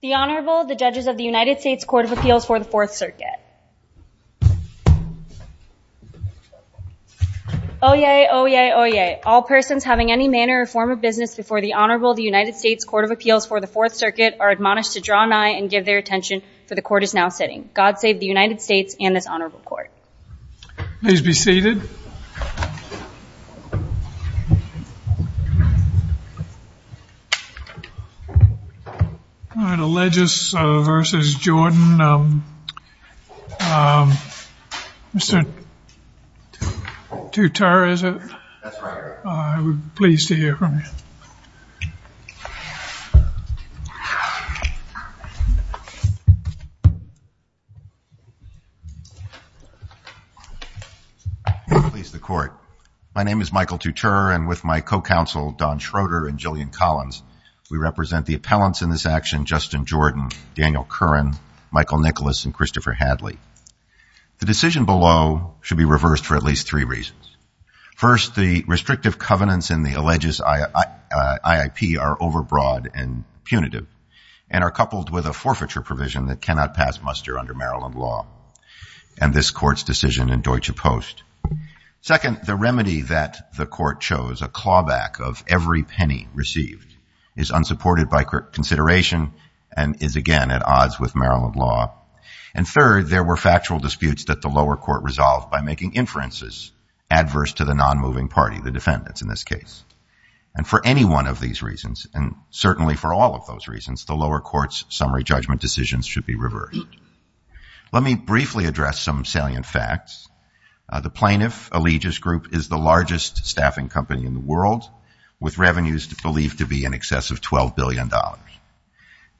The Honorable, the Judges of the United States Court of Appeals for the Fourth Circuit. Oyez, oyez, oyez. All persons having any manner or form of business before the Honorable of the United States Court of Appeals for the Fourth Circuit are admonished to draw an eye and give their attention to the court is now sitting. God save the United States and this Honorable Court. Allegis v. Jordan, Mr. Couture, I would be pleased to hear from you. My name is Michael Couture, and with my co-counsel Don Schroeder and Jillian Collins, we represent the appellants in this action, Justin Jordan, Daniel Curran, Michael Nicholas, and Christopher Hadley. The decision below should be reversed for at least three reasons. First, the restrictive covenants in the Allegis IIP are overbroad and punitive and are coupled with a forfeiture provision that cannot pass muster under Maryland law and this court's decision in Deutsche Post. Second, the remedy that the court chose, a clawback of every penny received, is unsupported by consideration and is again at odds with Maryland law. And third, there were factual disputes that the lower court resolved by making inferences adverse to the non-moving party, the defendants in this case. And for any one of these reasons, and certainly for all of those reasons, the lower court's summary judgment decisions should be reversed. Let me briefly address some salient facts. The plaintiff, Allegis Group, is the largest staffing company in the world with revenues believed to be in excess of $12 billion.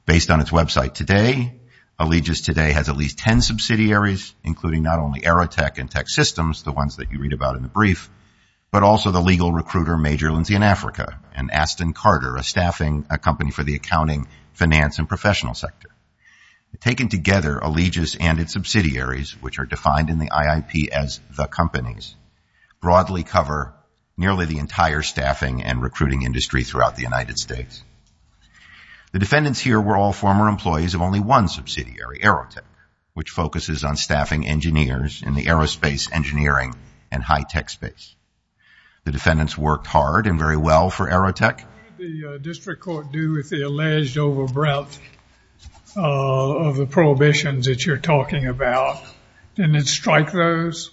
Based on its website today, Allegis today has at least 10 subsidiaries, including not only Aerotech and TechSystems, the ones that you read about in the brief, but also the legal recruiter, Major Lindsay in Africa, and Aston Carter, a staffing company for the accounting, finance, and professional sector. Taken together, Allegis and its subsidiaries, which are defined in the IIP as the companies, broadly cover nearly the entire staffing and recruiting industry throughout the United States. The defendants here were all former employees of only one subsidiary, AeroTech, which focuses on staffing engineers in the aerospace, engineering, and high-tech space. The defendants worked hard and very well for Aerotech. The district court do with the alleged overbrought of the prohibitions that you're talking about, didn't it strike those?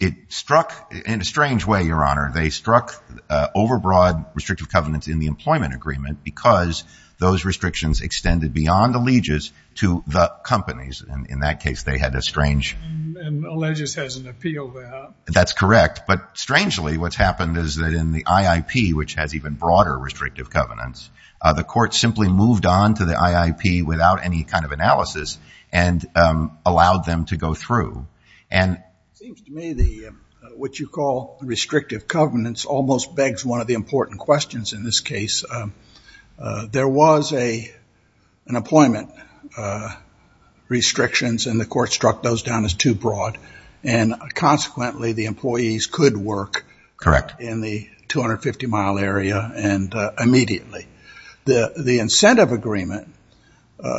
It struck in a strange way, Your Honor. They struck overbroad restrictive covenants in the employment agreement because those restrictions extended beyond Allegis to the companies. In that case, they had a strange... Allegis has an appeal there. That's correct. Strangely, what's happened is that in the IIP, which has even broader restrictive covenants, the court simply moved on to the IIP without any kind of analysis and allowed them to go through. It seems to me what you call restrictive covenants almost begs one of the important questions in this case. There was an employment restrictions and the court struck those down as too broad. Consequently, the employees could work in the 250-mile area immediately. The incentive agreement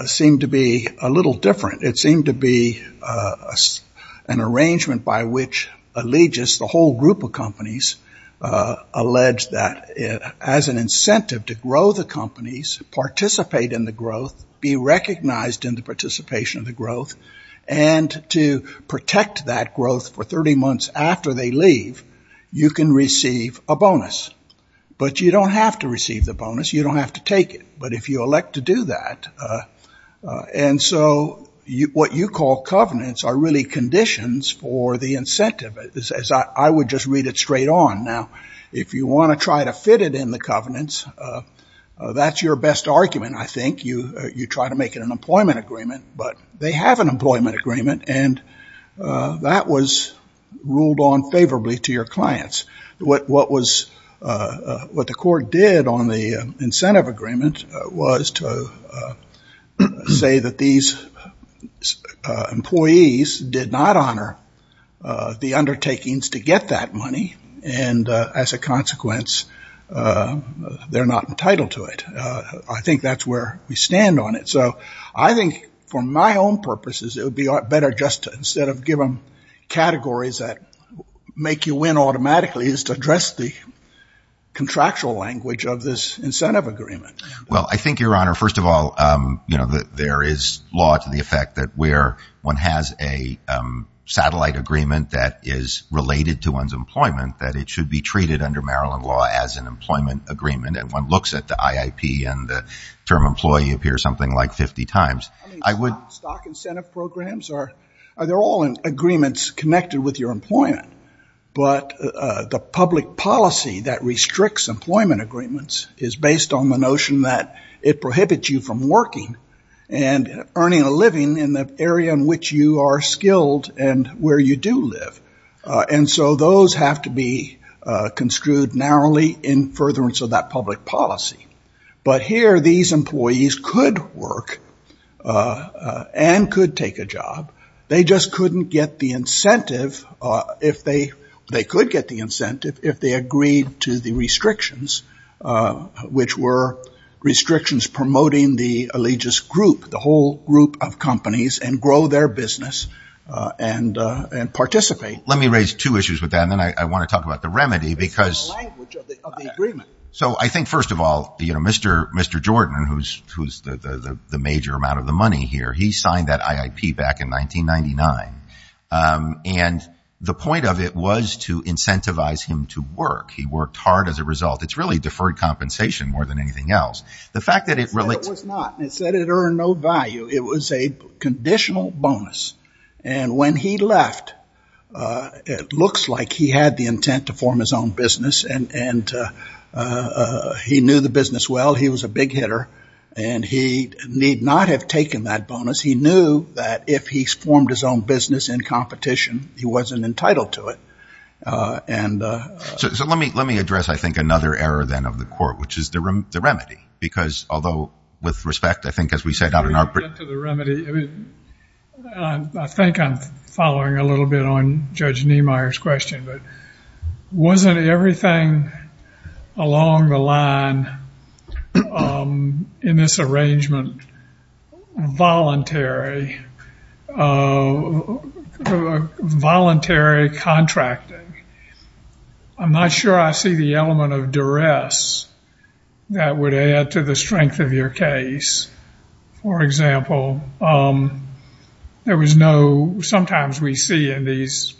seemed to be a little different. It seemed to be an arrangement by which Allegis, the whole group of companies, alleged that as an incentive to grow the companies, participate in the growth, be recognized in the participation of the growth, and to protect that growth for 30 months after they leave, you can receive a bonus. But you don't have to receive the bonus. You don't have to take it. But if you elect to do that, and so what you call covenants are really conditions for the incentive, as I would just read it straight on. Now, if you want to try to fit it in the covenants, that's your best argument, I think. You try to make it an employment agreement, but they have an employment agreement, and that was ruled on favorably to your clients. What the court did on the incentive agreement was to say that these employees did not honor the undertakings to get that money, and as a consequence, they're not entitled to it. I think that's where we stand on it. So I think for my own purposes, it would be better just to instead of give them categories that make you win automatically, just address the contractual language of this incentive agreement. Well, I think, Your Honor, first of all, there is law to the effect that where one has a satellite agreement that is related to one's employment, that it should be treated under Maryland law as an employment agreement, and one looks at the IIP and the term employee appears something like 50 times. I would Stock incentive programs, they're all agreements connected with your employment, but the public policy that restricts employment agreements is based on the notion that it prohibits you from working and earning a living in the area in which you are skilled and where you do live. And so those have to be construed narrowly in furtherance of that public policy. But here, these employees could work and could take a job. They just couldn't get the incentive, if they could get the incentive, if they agreed to the restrictions, which were restrictions promoting the allegious group, the whole group of companies, and grow their business and participate. Let me raise two issues with that, and then I want to talk about the remedy, because... Mr. Jordan, who's the major amount of the money here, he signed that IIP back in 1999, and the point of it was to incentivize him to work. He worked hard as a result. It's really deferred compensation more than anything else. The fact that it... It was not. It said it earned no value. It was a conditional bonus, and when he left, it looks like he had the intent to form his own business, and he knew the business well. He was a big hitter, and he need not have taken that bonus. He knew that if he formed his own business in competition, he wasn't entitled to it, and... So let me address, I think, another error then of the court, which is the remedy, because although, with respect, I think, as we set out in our... With respect to the remedy, I mean, I think I'm following a little bit on Judge Niemeyer's question, but wasn't everything along the line in this arrangement voluntary? Voluntary contracting? I'm not sure I see the element of duress that would add to the strength of your case. For example, there was no... Sometimes we see in these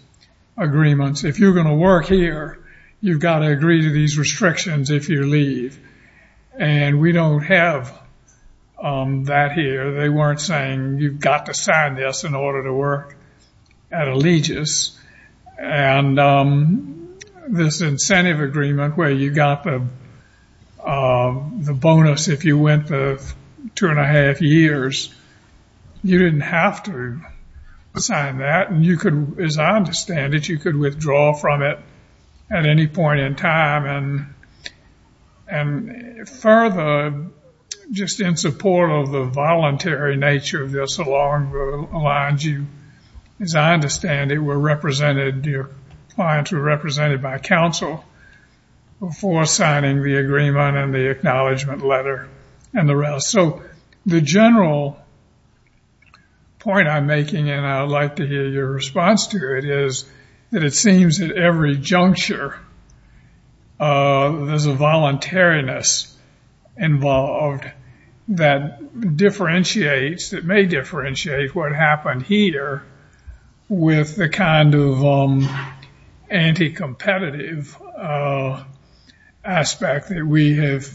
agreements, if you're going to work here, you've got to agree to these restrictions if you leave, and we don't have that here. They weren't saying you've got to sign this in order to work at Allegis, and this incentive agreement where you got the bonus if you went the two and a half years, you didn't have to sign that, and you could, as I understand it, you could withdraw from it at any point in time, and further, just in support of the voluntary nature of this, along the lines of, as I understand it, your clients were represented by counsel before signing the agreement and the acknowledgement letter and the rest. So the general point I'm making, and I'd like to hear your response to it, is that it seems that every juncture, there's a voluntariness involved that differentiates, that may differentiate what happened here with the kind of anti-competitive aspect that we have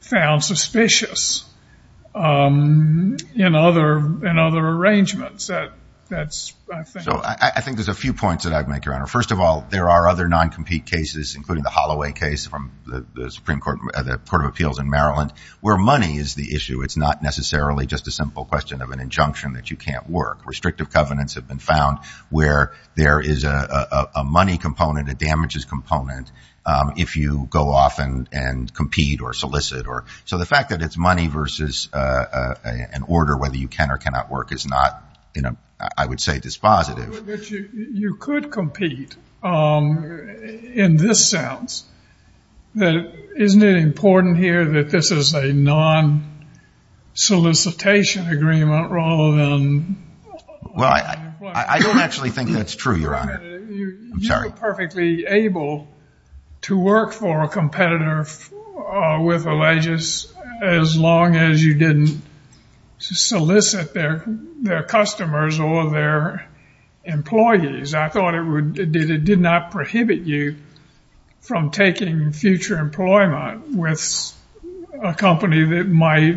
found suspicious in other arrangements. I think there's a few points that I'd make, Your Honor. First of all, there are other non-compete cases, including the Holloway case from the Supreme Court of Appeals in Maryland, where money is the issue. It's not necessarily just a simple question of an injunction that you can't work. Restrictive covenants have been found where there is a money component, a damages component, if you go off and compete or solicit. So the fact that it's money versus an order whether you can or cannot work is not, I would say, dispositive. You could compete in this sense. Isn't it important here that this is a non-solicitation agreement rather than... I don't actually think that's true, Your Honor. I'm sorry. You're perfectly able to work for a competitor with a legis as long as you didn't solicit their customers or their employees. I thought it did not prohibit you from taking future employment with a company that might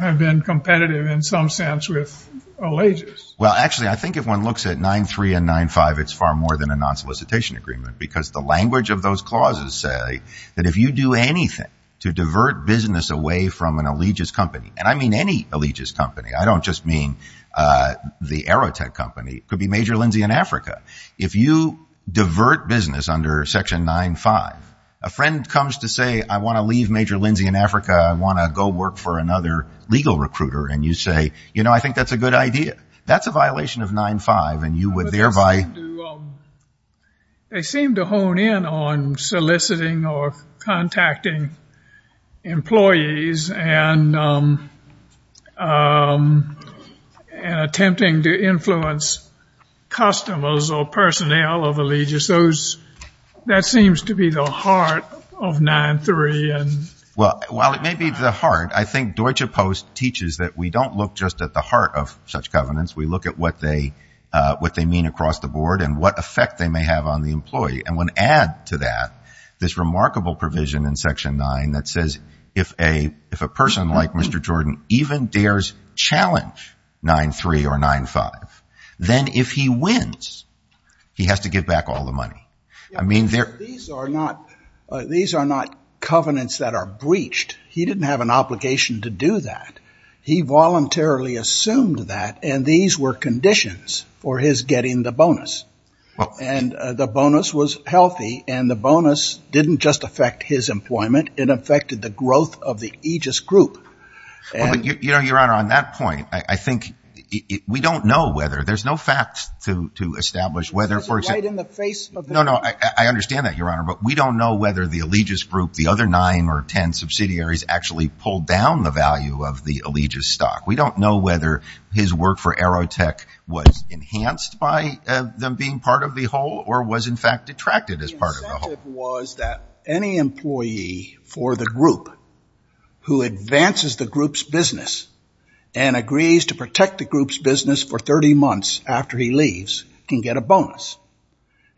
have been competitive in some sense with a legis. Well, actually, I think if one looks at 9-3 and 9-5, it's far more than a non-solicitation agreement because the language of those clauses say that if you do anything to divert business away from an allegiance company, and I mean any allegiance company. I don't just mean the Aerotech company. It could be Major Lindsay in Africa. If you divert business under Section 9-5, a friend comes to say, I want to leave Major Lindsay in Africa. I want to go work for another legal recruiter. And you say, you know, I think that's a good idea. That's a violation of 9-5 and you would thereby... They seem to hone in on soliciting or contacting employees and attempting to influence customers or personnel of allegiance. Those, that seems to be the heart of 9-3 and... Well, while it may be the heart, I think Deutsche Post teaches that we don't look just at the heart of such covenants. We look at what they mean across the board and what effect they may have on the employee. And when add to that, this remarkable provision in Section 9 that says, if a person like Mr. Jordan even dares challenge 9-3 or 9-5, then if he wins, he has to give back all the money. I mean, there... These are not covenants that are breached. He didn't have an obligation to do that. He voluntarily assumed that. And these were conditions for his getting the bonus. And the bonus was healthy. And the bonus didn't just affect his employment. It affected the growth of the aegis group. Well, you know, Your Honor, on that point, I think we don't know whether... There's no facts to establish whether, for example... It's right in the face of... No, no, I understand that, Your Honor. But we don't know whether the aegis group, the other 9 or 10 subsidiaries actually pulled down the value of the aegis stock. We don't know whether his work for Aerotech was enhanced by them being part of the whole or was, in fact, detracted as part of the whole. It was that any employee for the group who advances the group's business and agrees to protect the group's business for 30 months after he leaves can get a bonus.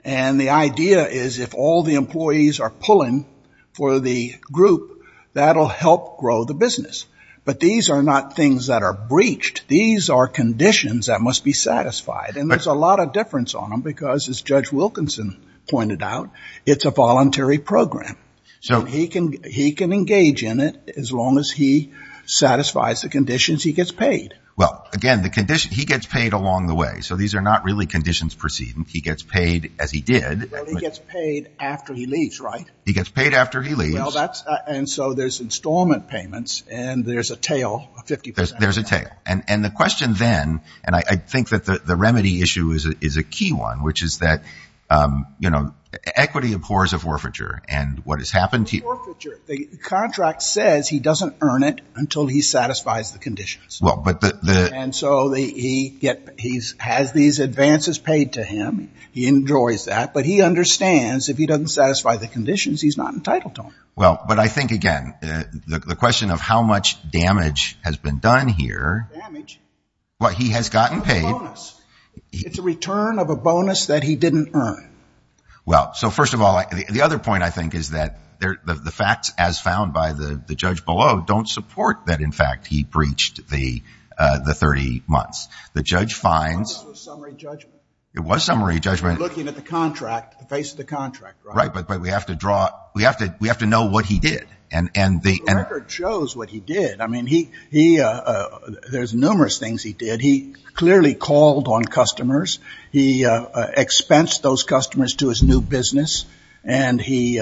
And the idea is if all the employees are pulling for the group, that'll help grow the business. But these are not things that are breached. These are conditions that must be satisfied. And there's a lot of difference on them because, as Judge Wilkinson pointed out, it's a voluntary program. So he can engage in it as long as he satisfies the conditions, he gets paid. Well, again, the condition... He gets paid along the way. So these are not really conditions perceived. He gets paid as he did. Well, he gets paid after he leaves, right? He gets paid after he leaves. Well, that's... And so there's installment payments and there's a tail, 50%. There's a tail. And the question then, and I think that the remedy issue is a key one, which is that equity abhors a forfeiture. And what has happened... The contract says he doesn't earn it until he satisfies the conditions. And so he has these advances paid to him. He enjoys that. But he understands if he doesn't satisfy the conditions, he's not entitled to them. Well, but I think, again, the question of how much damage has been done here... Damage? Well, he has gotten paid. It's a bonus. It's a return of a bonus that he didn't earn. Well, so first of all, the other point, I think, is that the facts as found by the judge don't support that, in fact, he breached the 30 months. The judge finds... That was summary judgment. It was summary judgment. Looking at the contract, the face of the contract, right? Right, but we have to draw... We have to know what he did. And the... The record shows what he did. I mean, there's numerous things he did. He clearly called on customers. He expensed those customers to his new business. And he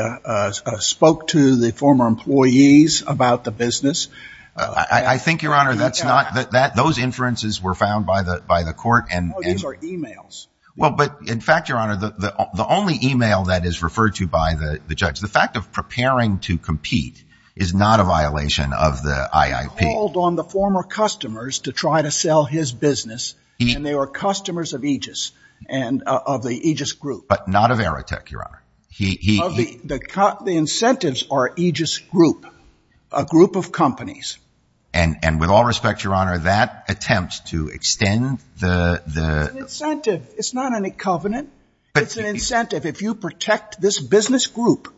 spoke to the former employees about the business. I think, Your Honor, that's not... Those inferences were found by the court and... These are emails. Well, but in fact, Your Honor, the only email that is referred to by the judge, the fact of preparing to compete is not a violation of the IIP. He called on the former customers to try to sell his business, and they were customers of Aegis and of the Aegis Group. But not of Aerotech, Your Honor. He... Well, the incentives are Aegis Group, a group of companies. And with all respect, Your Honor, that attempts to extend the... The incentive. It's not any covenant. It's an incentive. If you protect this business group,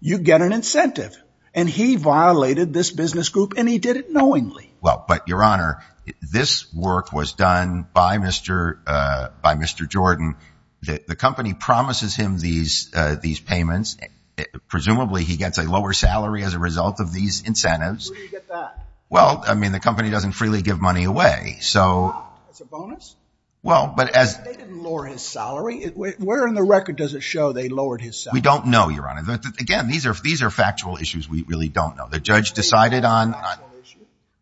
you get an incentive. And he violated this business group, and he did it knowingly. Well, but Your Honor, this work was done by Mr. Jordan. The company promises him these payments. Presumably, he gets a lower salary as a result of these incentives. Where do you get that? Well, I mean, the company doesn't freely give money away. So... It's a bonus? Well, but as... They didn't lower his salary. Where in the record does it show they lowered his salary? We don't know, Your Honor. Again, these are factual issues. We really don't know. The judge decided on...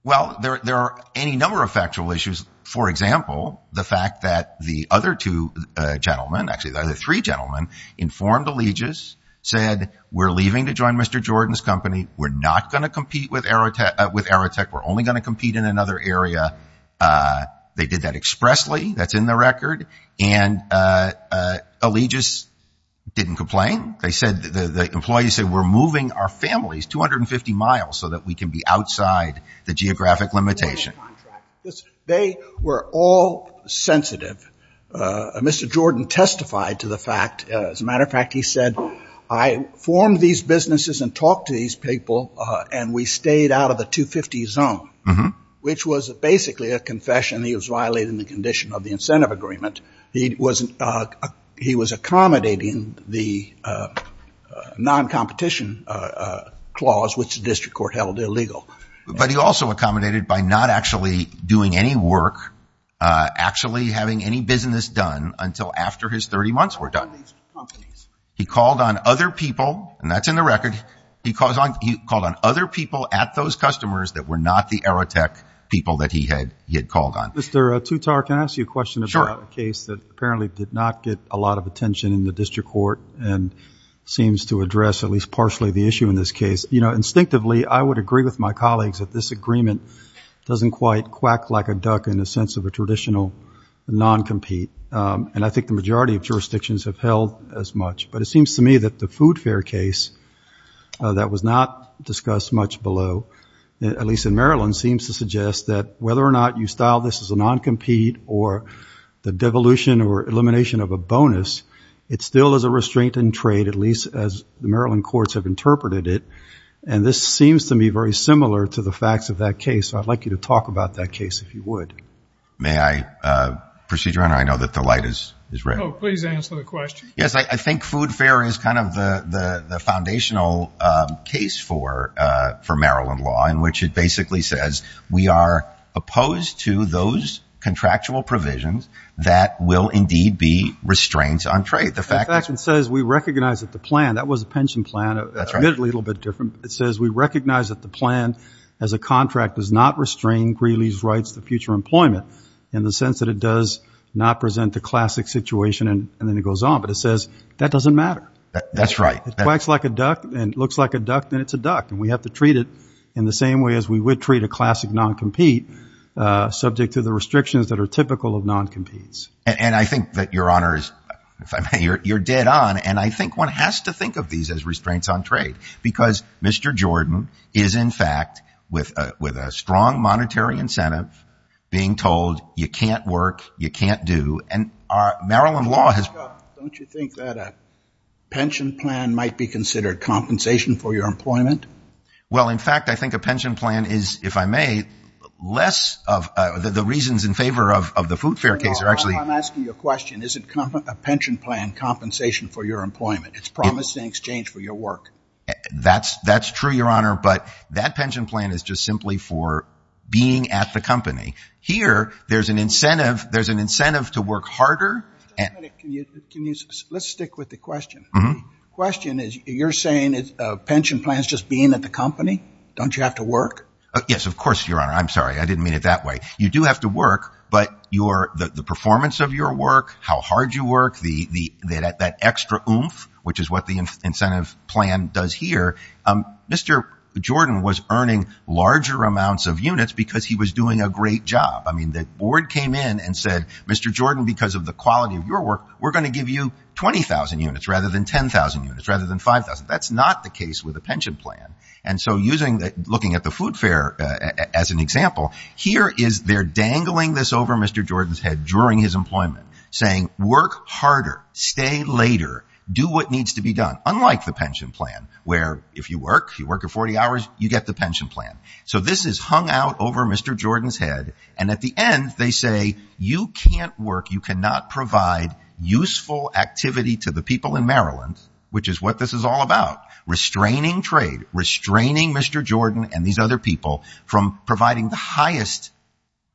Well, there are any number of factual issues. For example, the fact that the other two gentlemen, actually, the three gentlemen, informed Allegis, said, we're leaving to join Mr. Jordan's company. We're not going to compete with Aerotech. We're only going to compete in another area. They did that expressly. That's in the record. And Allegis didn't complain. They said, the employees said, we're moving our families 250 miles so that we can be outside the geographic limitation. Listen, they were all sensitive. Mr. Jordan testified to the fact, as a matter of fact, he said, I formed these businesses and talked to these people, and we stayed out of the 250 zone, which was basically a confession. He was violating the condition of the incentive agreement. He wasn't... He was accommodating the non-competition clause, which the district court held illegal. But he also accommodated by not actually doing any work, actually having any business done until after his 30 months were done. He called on other people, and that's in the record. He called on other people at those customers that were not the Aerotech people that he had called on. Mr. Tutar, can I ask you a question about a case that apparently did not get a lot of attention in the district court and seems to address at least partially the issue in this case? Instinctively, I would agree with my colleagues that this agreement doesn't quite quack like a duck in the sense of a traditional non-compete, and I think the majority of jurisdictions have held as much. But it seems to me that the food fare case that was not discussed much below, at least in Maryland, seems to suggest that whether or not you style this as a non-compete or the devolution or elimination of a bonus, it still is a restraint in trade, at least as the Maryland courts have interpreted it, and this seems to me very similar to the facts of that case. So I'd like you to talk about that case if you would. May I, Procedure Honor? I know that the light is red. Oh, please answer the question. Yes, I think food fare is kind of the foundational case for Maryland law in which it basically says we are opposed to those contractual provisions that will indeed be restraints on trade. In fact, it says we recognize that the plan, that was a pension plan, it's a little bit different, it says we recognize that the plan as a contract does not restrain Greeley's rights to future employment in the sense that it does not present the classic situation, and then it goes on, but it says that doesn't matter. That's right. It quacks like a duck, and it looks like a duck, and it's a duck, and we have to treat it in the same way as we would treat a classic non-compete, subject to the restrictions that are typical of non-competes. And I think that, Your Honors, you're dead on, and I think one has to think of these as restraints on trade because Mr. Jordan is, in fact, with a strong monetary incentive being told you can't work, you can't do, and Maryland law has... Don't you think that a pension plan might be considered compensation for your employment? Well, in fact, I think a pension plan is, if I may, less of the reasons in favor of the food fare case are actually... I'm asking you a question. Is a pension plan compensation for your employment? It's promised in exchange for your work. That's true, Your Honor, but that pension plan is just simply for being at the company. Here, there's an incentive to work harder... Let's stick with the question. Question is, you're saying a pension plan is just being at the company? Don't you have to work? Yes, of course, Your Honor. I'm sorry. I didn't mean it that way. You do have to work, but the performance of your work, how hard you work, that extra oomph, which is what the incentive plan does here, Mr. Jordan was earning larger amounts of units because he was doing a great job. I mean, the board came in and said, Mr. Jordan, because of the quality of your work, we're going to give you 20,000 units rather than 10,000 units rather than 5,000. That's not the case with a pension plan. And so looking at the food fair as an example, here is they're dangling this over Mr. Jordan's head during his employment, saying, work harder, stay later, do what needs to be done, unlike the pension plan, where if you work, you work for 40 hours, you get the pension plan. So this is hung out over Mr. Jordan's head. And at the end, they say, you can't work. You cannot provide useful activity to the people in Maryland, which is what this is all about. Restraining trade, restraining Mr. Jordan and these other people from providing the highest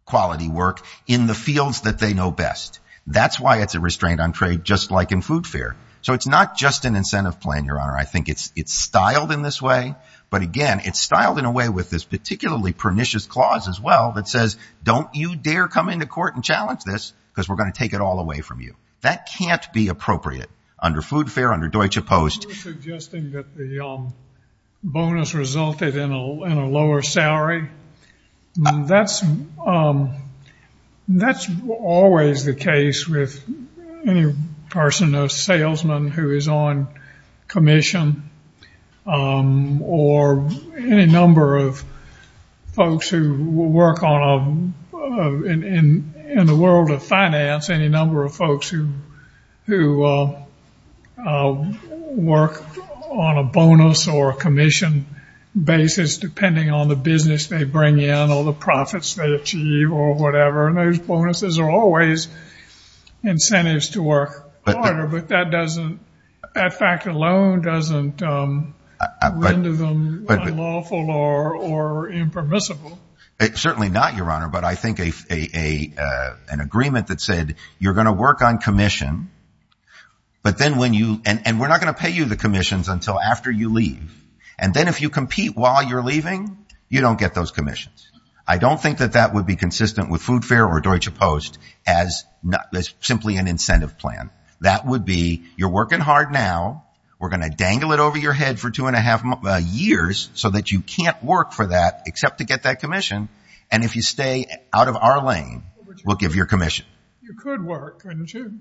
quality work in the fields that they know best. That's why it's a restraint on trade, just like in food fair. So it's not just an incentive plan, Your Honor. I think it's styled in this way, but again, it's styled in a way with this particularly pernicious clause as well that says, don't you dare come into court and challenge this because we're going to take it all away from you. That can't be appropriate. Under food fair, under Deutsche Post. Suggesting that the bonus resulted in a lower salary, that's always the case with any person, a salesman who is on commission, or any number of folks who work in the world of finance, any number of folks who work on a bonus or commission basis, depending on the business they bring in or the profits they achieve or whatever, and those bonuses are always incentives to work harder, but that fact alone doesn't render them unlawful or impermissible. Certainly not, Your Honor, but I think an agreement that said, you're going to work on commission, and we're not going to pay you the commissions until after you leave, and then if you compete while you're leaving, you don't get those commissions. I don't think that that would be consistent with food fair or Deutsche Post as simply an incentive plan. That would be, you're working hard now, we're going to dangle it over your head for two years, you can't work for that except to get that commission, and if you stay out of our lane, we'll give you a commission. The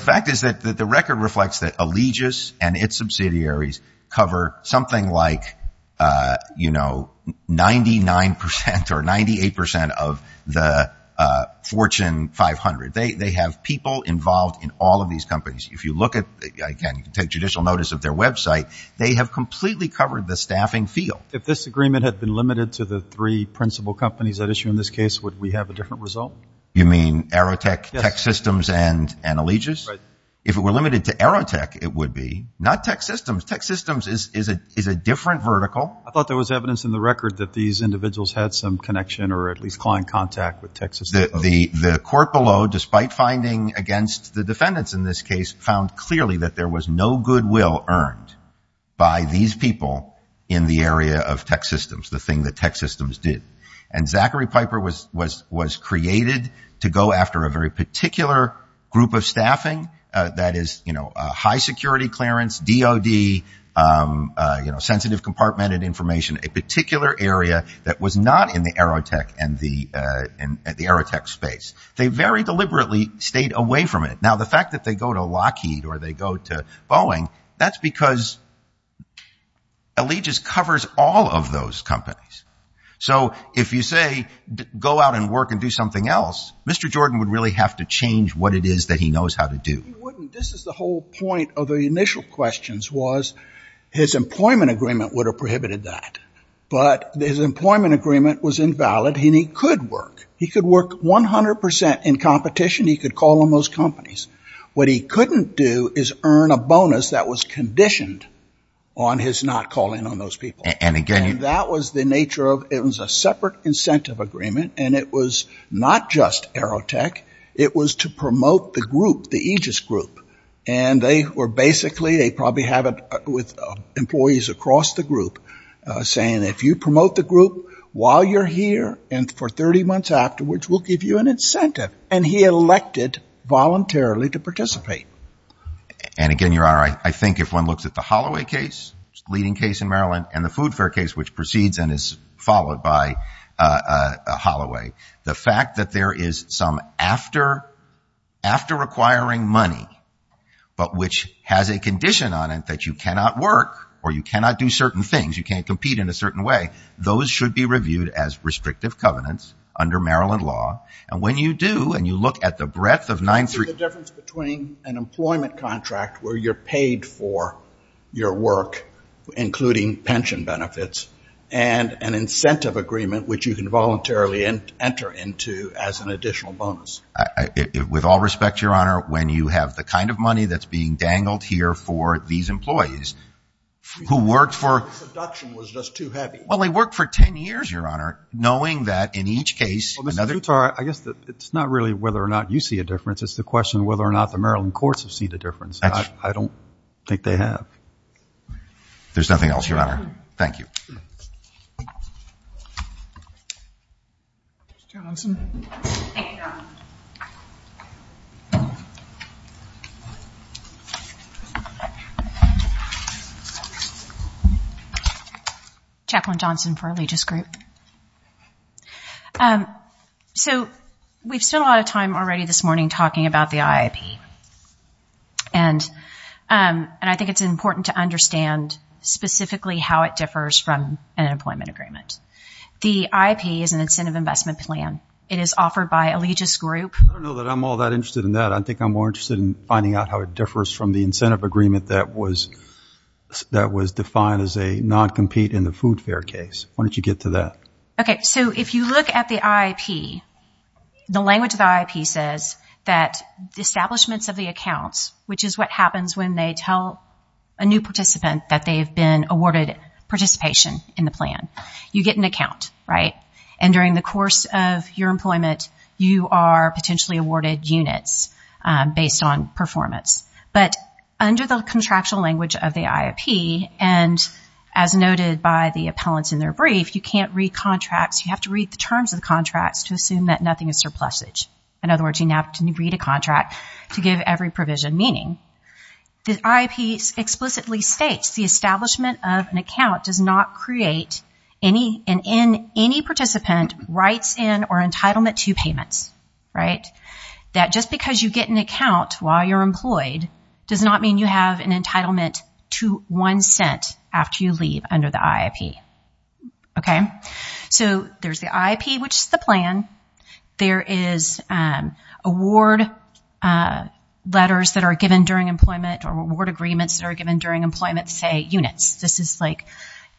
fact is that the record reflects that Allegis and its subsidiaries cover something like 99% or 98% of the Fortune 500. They have people involved in all of these companies. If you look at, again, you can take judicial notice of their website, they have completely covered the staffing field. If this agreement had been limited to the three principal companies at issue in this case, would we have a different result? You mean Aerotech, TechSystems, and Allegis? If it were limited to Aerotech, it would be. Not TechSystems. TechSystems is a different vertical. I thought there was evidence in the record that these individuals had some connection or at least client contact with TechSystems. The court below, despite finding against the defendants in this case, found clearly that there was no goodwill earned by these people in the area of TechSystems, the thing that TechSystems did. And Zachary Piper was created to go after a very particular group of staffing, that is high security clearance, DOD, sensitive compartmented information, a particular area that was not in the Aerotech space. They very deliberately stayed away from it. Now the fact that they go to Lockheed or they go to Boeing, that's because Allegis covers all of those companies. So if you say go out and work and do something else, Mr. Jordan would really have to change what it is that he knows how to do. He wouldn't. This is the whole point of the initial questions was his employment agreement would have prohibited that, but his employment agreement was invalid and he could work. He could work 100 percent in competition. He could call on those companies. What he couldn't do is earn a bonus that was conditioned on his not calling on those people. And again, that was the nature of it was a separate incentive agreement. And it was not just Aerotech. It was to promote the group, the Aegis group. And they were basically, they probably have it with employees across the group saying if you promote the group while you're here and for 30 months afterwards, we'll give you an incentive. And he elected voluntarily to participate. And again, you're right. I think if one looks at the Holloway case, leading case in Maryland and the food fare case, which proceeds and is followed by Holloway, the fact that there is some after requiring money, but which has a condition on it that you cannot work or you cannot do certain things. You can't compete in a certain way. Those should be reviewed as restrictive covenants under Maryland law. And when you do and you look at the breadth of 9-3-1 between an employment contract where you're paid for your work, including pension benefits and an incentive agreement which you can voluntarily enter into as an additional bonus. With all respect, your honor, when you have the kind of money that's being dangled here for these employees who worked for. The production was just too heavy. Well, they worked for 10 years, your honor, knowing that in each case. Well, Mr. Dutar, I guess it's not really whether or not you see a difference. It's the question of whether or not the Maryland courts have seen the difference. I don't think they have. There's nothing else, your honor. Thank you. Chaplain Johnson for Allegious Group. So we've spent a lot of time already this morning talking about the IEP. And I think it's important to understand specifically how it differs from an employment agreement. The IEP is an incentive investment plan. It is offered by Allegious Group. I don't know that I'm all that interested in that. I think I'm more interested in finding out how it differs from the incentive agreement that was that was defined as a non-compete in the food fare case. Why don't you get to that? Okay. So if you look at the IEP, the language of the IEP says that the establishment of the accounts, which is what happens when they tell a new participant that they've been awarded participation in the plan, you get an account. Right. And during the course of your employment, you are potentially awarded units. Based on performance. But under the contractual language of the IEP and as noted by the appellants in their brief, you can't read contracts. You have to read the terms of the contracts to assume that nothing is surplusage. In other words, you have to read a contract to give every provision meaning. The IEP explicitly states the establishment of an account does not create any and in any participant rights in or entitlement to payments. Right. That just because you get an account while you're employed does not mean you have an entitlement to one cent after you leave under the IEP. Okay. So there's the IEP, which is the plan. There is award letters that are given during employment or award agreements that are given during employment, say units. This is like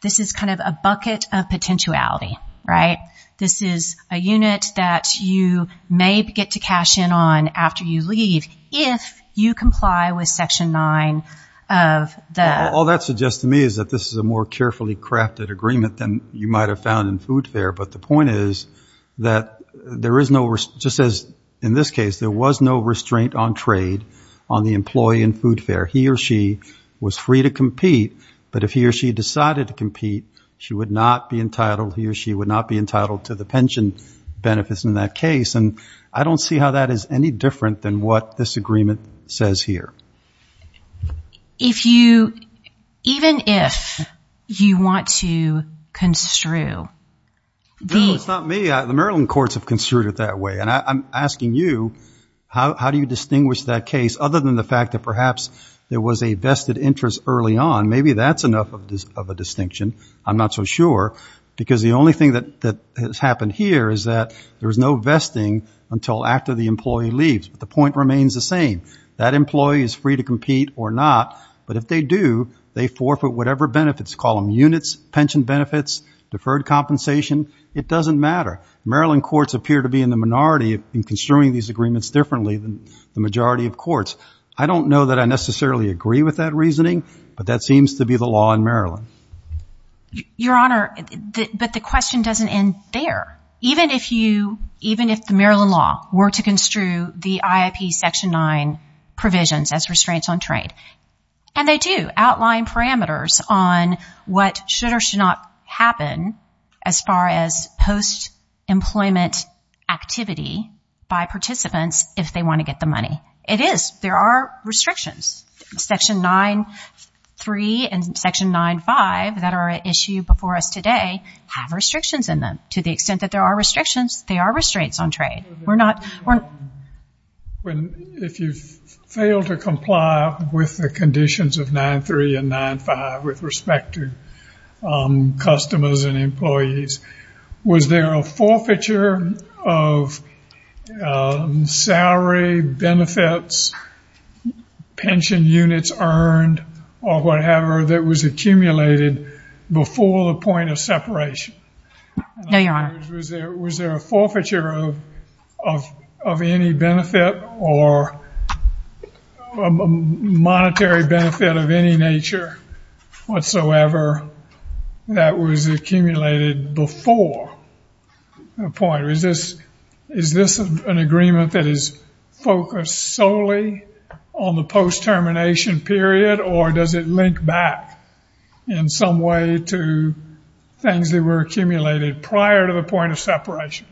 this is kind of a bucket of potentiality. Right. This is a unit that you may get to cash in on after you leave if you comply with Section 9 of the. All that suggests to me is that this is a more carefully crafted agreement than you might have found in food fare. But the point is that there is no just as in this case, there was no restraint on trade on the employee in food fare. He or she was free to compete. But if he or she decided to compete, she would not be entitled. He or she would not be entitled to the pension benefits in that case. And I don't see how that is any different than what this agreement says here. If you even if you want to construe. This is not me. The Maryland courts have construed it that way. And I'm asking you, how do you distinguish that case other than the fact that perhaps there was a vested interest early on? Maybe that's enough of a distinction. I'm not so sure, because the only thing that has happened here is that there is no vesting until after the employee leaves. The point remains the same. That employee is free to compete or not. But if they do, they forfeit whatever benefits, call them units, pension benefits, deferred compensation. It doesn't matter. Maryland courts appear to be in the minority in construing these agreements differently than the majority of courts. I don't know that I necessarily agree with that reasoning, but that seems to be the law in Maryland. Your Honor, but the question doesn't end there. Even if you even if the Maryland law were to construe the IAP Section 9 provisions as restraints on trade. And they do outline parameters on what should or should not happen as far as post employment activity by participants if they want to get the money. It is. There are restrictions. Section 9.3 and Section 9.5 that are at issue before us today have restrictions in them. To the extent that there are restrictions, there are restraints on trade. We're not. If you fail to comply with the conditions of 9.3 and 9.5 with respect to customers and pension units earned or whatever that was accumulated before the point of separation. Hang on. Was there a forfeiture of any benefit or monetary benefit of any nature whatsoever that was accumulated before the point? Is this is this an agreement that is focused solely on the post termination period or does it link back in some way to things that were accumulated prior to the point of separation?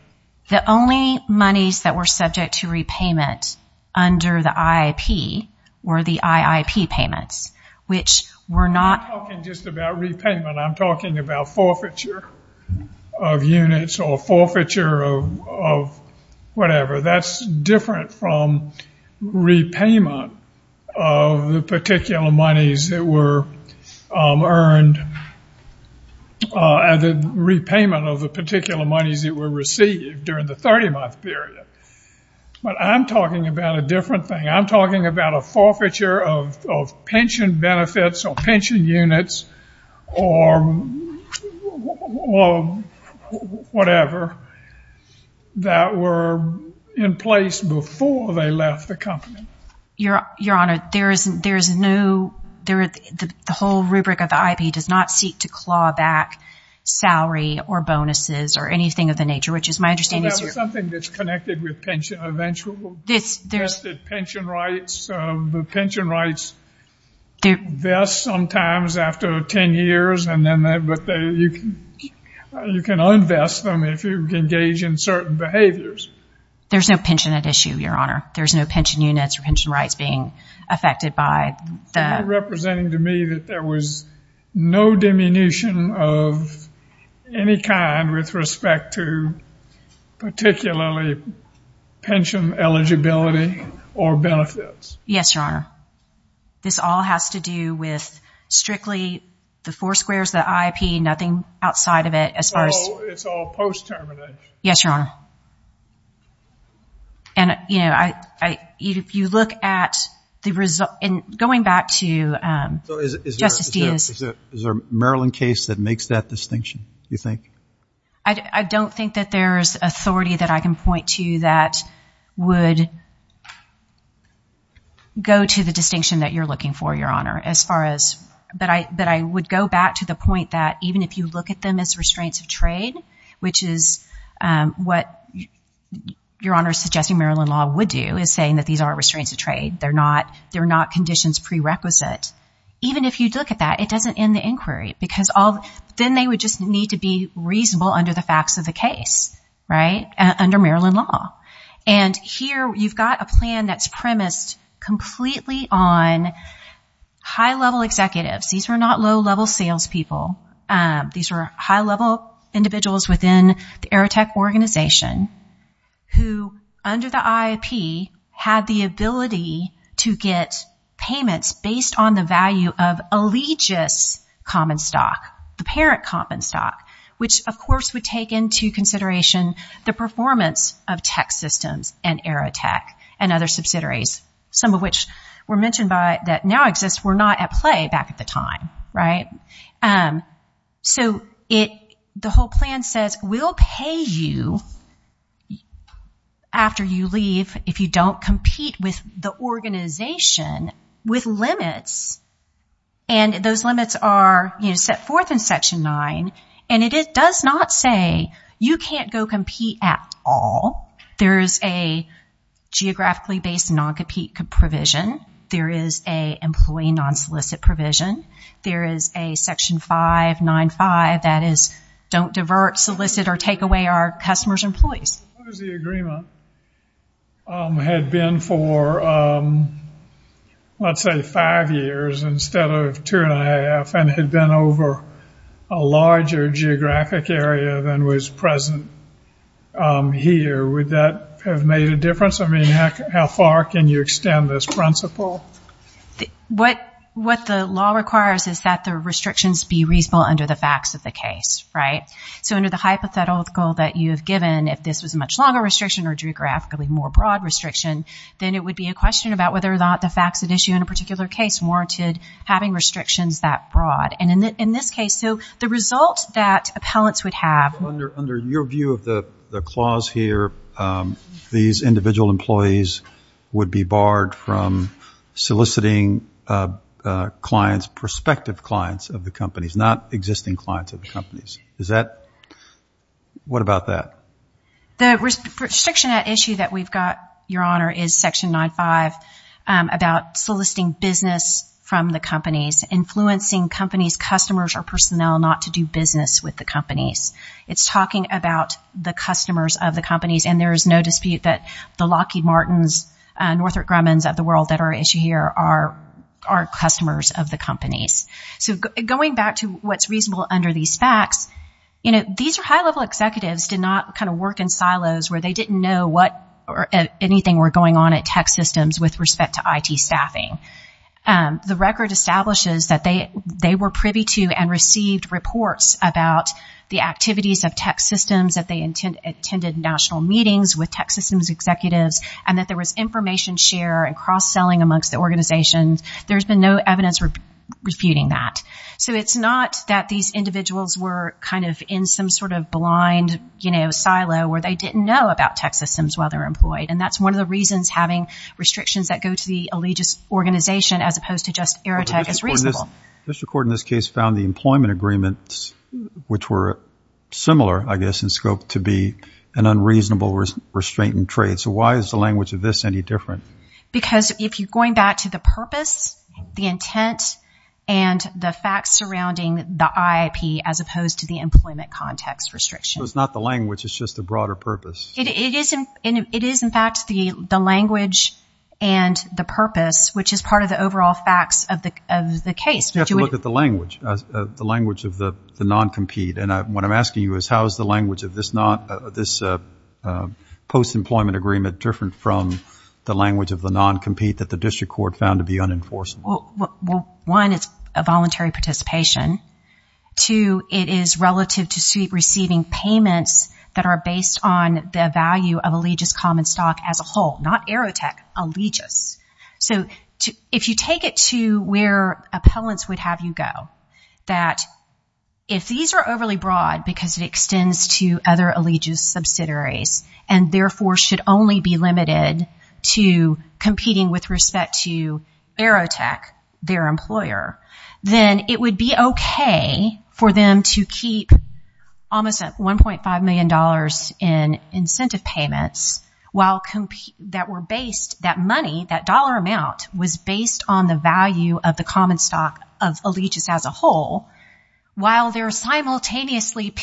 The only monies that were subject to repayment under the IAP were the IIP payments, which were not. I'm not talking just about repayment. I'm talking about forfeiture of units or forfeiture of whatever. That's different from repayment of the particular monies that were earned and repayment of the particular monies that were received during the 30 month period. But I'm talking about a different thing. I'm not talking about repayments or whatever that were in place before they left the company. Your Honor, there is no there is the whole rubric of the IAP does not seek to claw back salary or bonuses or anything of the nature, which is my understanding. That's something that's connected with pension eventually. Pension rights, the pension rights do best sometimes after 10 years and then you can un-best them if you engage in certain behaviors. There's no pension issue, Your Honor. There's no pension units or pension rights being affected by that. Representing to me that there was no diminution of any kind with respect to particularly pension eligibility or benefits. Yes, Your Honor. This all has to do with strictly the four squares, the IAP, nothing outside of it. As far as it's all post term. Yes, Your Honor. And, you know, if you look at the result and going back to is there a Maryland case that makes that distinction, do you think? I don't think that there's authority that I can point to that would go to the distinction that you're looking for, Your Honor, as far as that I that I would go back to the point that even if you look at them as restraints of trade, which is what Your Honor is suggesting Maryland law would do is saying that these are restraints of trade. They're not they're not conditions prerequisite. Even if you look at that, it doesn't end the inquiry because all then they would just need to be reasonable under the facts of the case. Right. Under Maryland law. And here you've got a plan that's premised completely on high level executives. These are not low level salespeople. These are high level individuals within the AeroTec organization who under the IAP had the ability to get payments based on the value of allegiance common stock, the parent common stock, which, of course, would take into consideration the performance of tech systems and AeroTec and other subsidiaries, some of which were mentioned by that now exists. We're not at play back at the time. Right. So it the whole plan says we'll pay you after you leave if you don't compete with the organization with limits. And those limits are set forth in section nine, and it does not say you can't go compete at all. There is a geographically based non-compete provision. There is a employee non-solicit provision. There is a section 595 that is don't divert, solicit or take away our customers' employees. The agreement had been for, let's say, five years instead of two and a half and had been over a larger geographic area than was present here. Would that have made a difference? I mean, how far can you extend this principle? What what the law requires is that the restrictions be reasonable under the facts of the case. Right. So under the hypothetical that you've given, if this is a much longer restriction or geographically more broad restriction, then it would be a question about whether or not the facts of issue in a particular case warranted having restrictions that broad. And in this case, so the results that appellants would have under under your view of the clause here, these individual employees would be barred from soliciting clients, prospective clients of the companies, not existing clients of the companies. Is that what about that? The restriction issue that we've got, Your Honor, is Section 95 about soliciting business from the companies, influencing companies, customers or personnel not to do business with the companies. It's talking about the customers of the companies. And there is no dispute that the Lockheed Martins and Northrop Grumman's of the world that our issue here are our customers of the companies. So going back to what's reasonable under these facts, you know, these are high level executives did not kind of work in silos where they didn't know what or anything were going on at tech systems with respect to IT staffing. The record establishes that they they were privy to and received reports about the activities of tech systems that they intended, attended national meetings with tech systems executives, and that there was information share and cross selling amongst the organizations. There's been no evidence of refuting that. So it's not that these individuals were kind of in some sort of blind, you know, silo where they didn't know about tech systems while they're employed. And that's one of the reasons having restrictions that go to the allegious organization as opposed to just errata is reasonable. Mr. Court in this case found the employment agreements, which were similar, I guess, in trade. So why is the language of this any different? Because if you're going back to the purpose, the intent and the facts surrounding the IP, as opposed to the employment context restriction, it's not the language, it's just a broader purpose. It isn't it is, in fact, the the language and the purpose, which is part of the overall facts of the case to look at the language, the language of the non-compete. And what I'm asking you is how is the language of this not this post employment agreement, different from the language of the non-compete that the district court found to be unenforced? Well, one, it's a voluntary participation to it is relative to receiving payments that are based on the value of allegious common stock as a whole, not error tech allegiance. So if you take it to where appellants would have you go, that if these are overly broad because it extends to other allegiance subsidiaries and therefore should only be limited to competing with respect to error tech, their employer, then it would be OK for them to keep almost one point five million dollars in incentive payments while that were based that money, that dollar amount was based on the value of the common stock of allegiance as whole, while they're simultaneously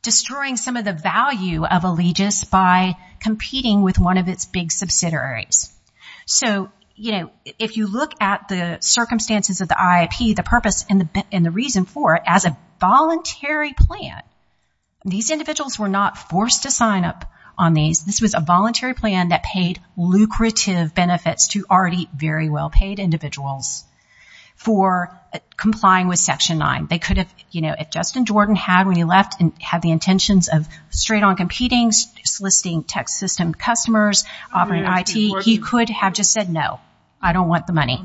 destroying some of the value of allegiance by competing with one of its big subsidiaries. So, you know, if you look at the circumstances of the IEP, the purpose and the reason for it as a voluntary plan, these individuals were not forced to sign up on these. This was a voluntary plan that paid lucrative benefits to already very well paid individuals for complying with Section 9. They could have, you know, if Justin Jordan had when he left and had the intentions of straight on competing, soliciting tech system customers, he could have just said, no, I don't want the money.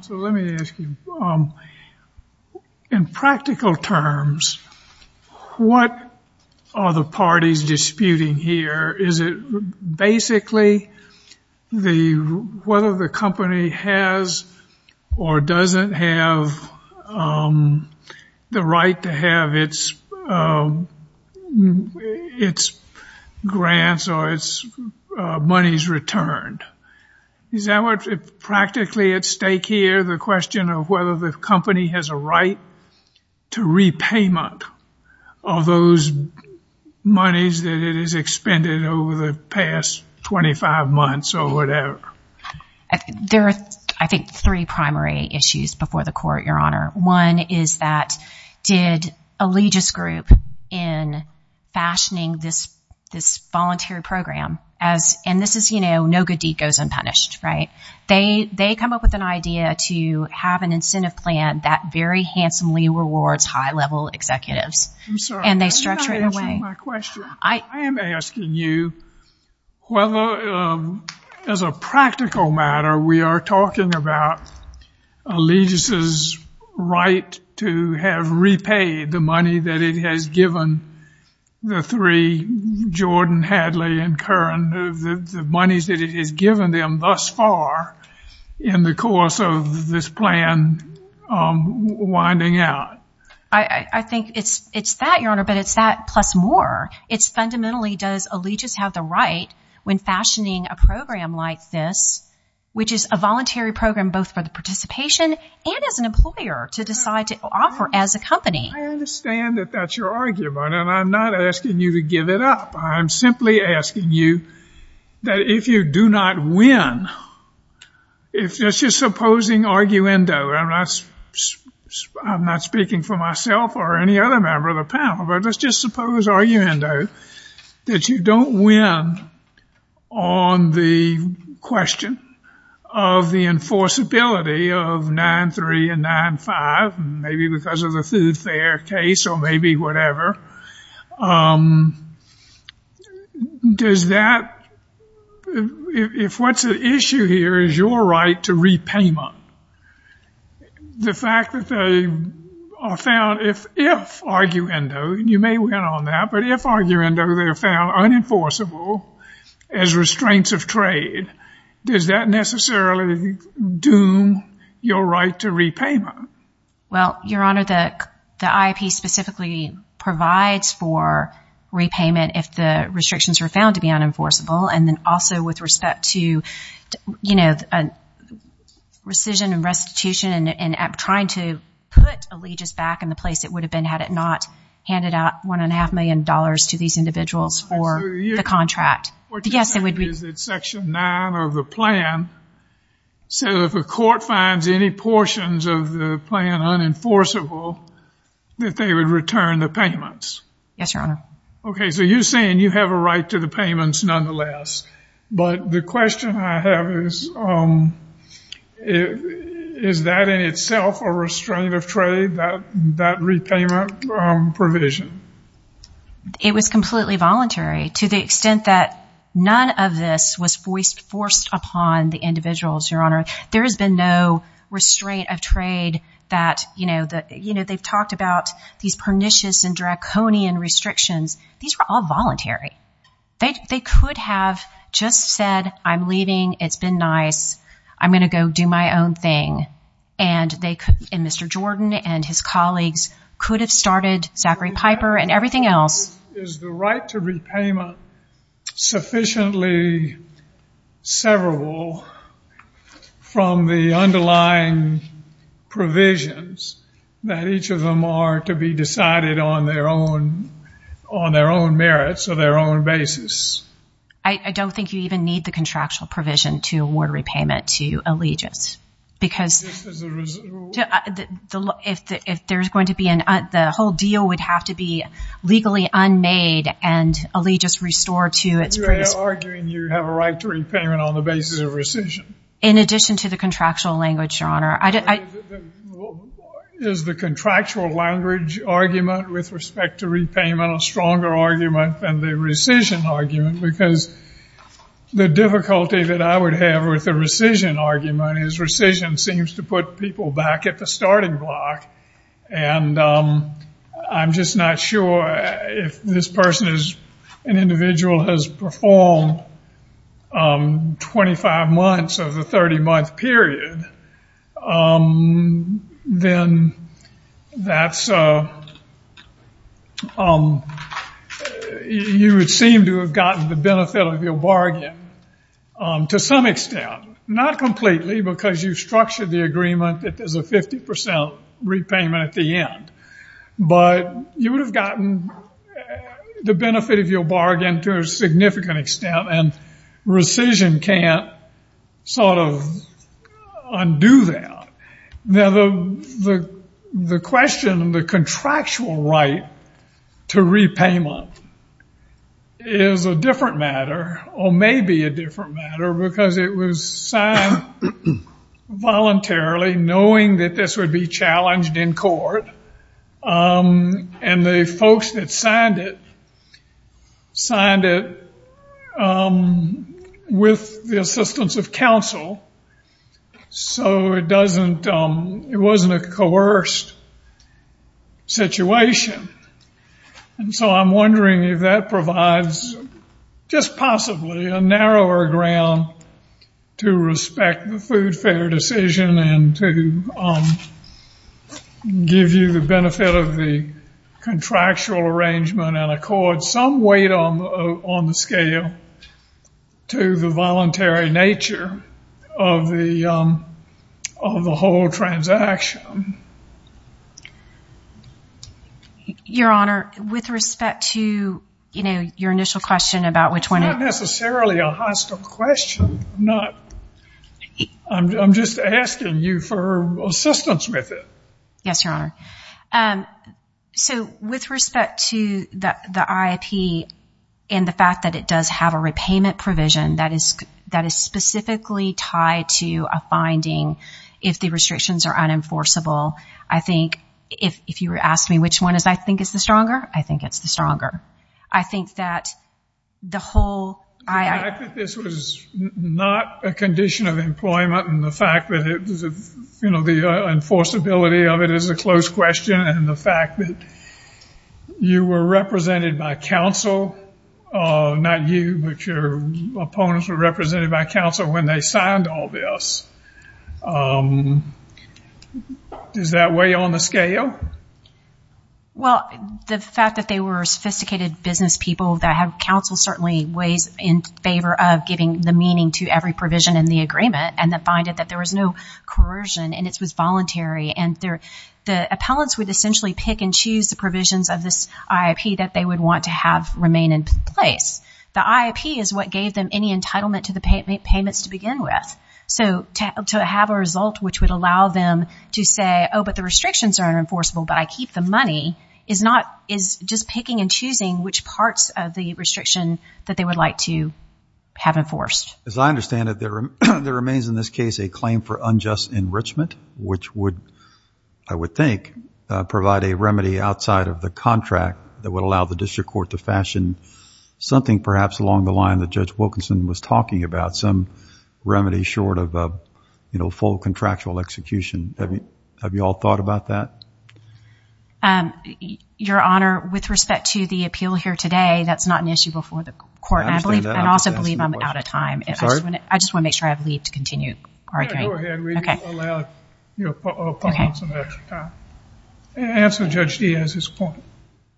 In practical terms, what are the parties disputing here? Is it basically whether the company has or doesn't have the right to have its grants or its monies returned? Is that what's practically at stake here? The question of whether the company has a right to repayment of those monies that it is spending over the past 25 months or whatever. There are, I think, three primary issues before the court, Your Honor. One is that did Allegis Group in fashioning this voluntary program as and this is, you know, no good deed goes unpunished. Right. They they come up with an idea to have an incentive plan that very handsomely rewards high level executives. And they structure it in a way. My question, I am asking you whether as a practical matter, we are talking about Allegis' right to have repaid the money that it has given the three, Jordan, Hadley and Curran, the monies that it has given them thus far in the course of this plan winding out. I think it's it's that, Your Honor, but it's that plus more. It's fundamentally does Allegis have the right when fashioning a program like this, which is a voluntary program both for the participation and as an employer to decide to offer as a company. I understand that that's your argument and I'm not asking you to give it up. I'm simply asking you that if you do not win, if this is supposing arguendo, I'm not speaking for myself or any other member of the panel, but let's just suppose arguendo, that you don't win on the question of the enforceability of 9-3 and 9-5, maybe because of the food fare case or maybe whatever. Does that, if what's at issue here is your right to repayment, the fact that they are found, if arguendo, you may win on that, but if arguendo, they're found unenforceable as restraints of trade, does that necessarily do your right to repayment? Well, Your Honor, the IEP specifically provides for repayment if the restrictions are found to be unenforceable and then also with respect to, you know, rescission and restitution and trying to put Allegis back in the place it would have been had it not handed out one and a half million dollars to these individuals or the contract. What you're saying is that Section 9 of the plan says if a court finds any portions of the plan unenforceable, that they would return the payments? Yes, Your Honor. Okay. So you're saying you have a right to the payments nonetheless, but the question I have is, is that in itself a restraint of trade, that repayment provision? It was completely voluntary. To the extent that none of this was forced upon the individuals, Your Honor, there has been no restraint of trade that, you know, that, you know, they've talked about these pernicious and draconian restrictions. These are all voluntary. They could have just said, I'm leaving. It's been nice. I'm going to go do my own thing. And they could, and Mr. Jordan and his colleagues could have started Zachary Piper and everything else. Is the right to repayment sufficiently severable from the underlying provisions that each of them are to be decided on their own, on their own merits or their own basis? I don't think you even need the contractual provision to award repayment to allegiance because if there's going to be an, the whole deal would have to be legally unmade and allegiance restored to its previous. You're arguing you have a right to repayment on the basis of rescission. In addition to the contractual language, Your Honor. Is the contractual language argument with respect to repayment a stronger argument than the rescission argument? Because the difficulty that I would have with the rescission argument is rescission seems to put people back at the starting block. And I'm just not sure if this person is, an individual has performed 25 months of a 30 percent repayment, but you would have gotten the benefit of your bargain to some extent. Not completely, because you structured the agreement that there's a 50 percent repayment at the end, but you would have gotten the benefit of your bargain to a significant extent and rescission can't sort of undo that. Now the question of the contractual right to repayment is a different matter or maybe a different matter because it was signed voluntarily knowing that this would be challenged in court and the folks that signed it, signed it with the assistance of counsel. So it doesn't, it wasn't a coerced situation. And so I'm wondering if that provides just possibly a narrower ground to respect the food fare decision and to give you the benefit of the contractual arrangement and accord some weight on the scale to the voluntary nature of the whole transaction. Your Honor, with respect to, you know, your initial question about which one. Not necessarily a hostile question, I'm just asking you for assistance with it. Yes, Your Honor. And so with respect to the IEP and the fact that it does have a repayment provision that is specifically tied to a finding, if the restrictions are unenforceable, I think if you were to ask me which one I think is the stronger, I think it's the stronger. I think that the whole. I think this was not a condition of employment and the fact that it was, you know, the enforceability of it is a close question. And the fact that you were represented by counsel, not you, but your opponents were represented by counsel when they signed all this. Is that way on the scale? Well, the fact that they were sophisticated business people that have counsel certainly weighed in favor of giving the meaning to every provision in the agreement. And the finding that there was no coercion and it was voluntary. And the appellants would essentially pick and choose the provisions of this IEP that they would want to have remain in place. The IEP is what gave them any entitlement to the payments to begin with. So to have a result which would allow them to say, oh, but the restrictions are unenforceable, but I keep the money, is not, is just picking and choosing which parts of the restrictions that they would like to have enforced. As I understand it, there remains in this case a claim for unjust enrichment, which would, I would think, provide a remedy outside of the contract that would allow the district court to fashion something perhaps along the line that Judge Wilkinson was talking about, some remedy short of, you know, full contractual execution. Have you all thought about that? Your Honor, with respect to the appeal here today, that's not an issue before the court. I also believe I'm out of time. I just want to make sure I have leave to continue. Go ahead, read it aloud. And answer Judge Diaz's point.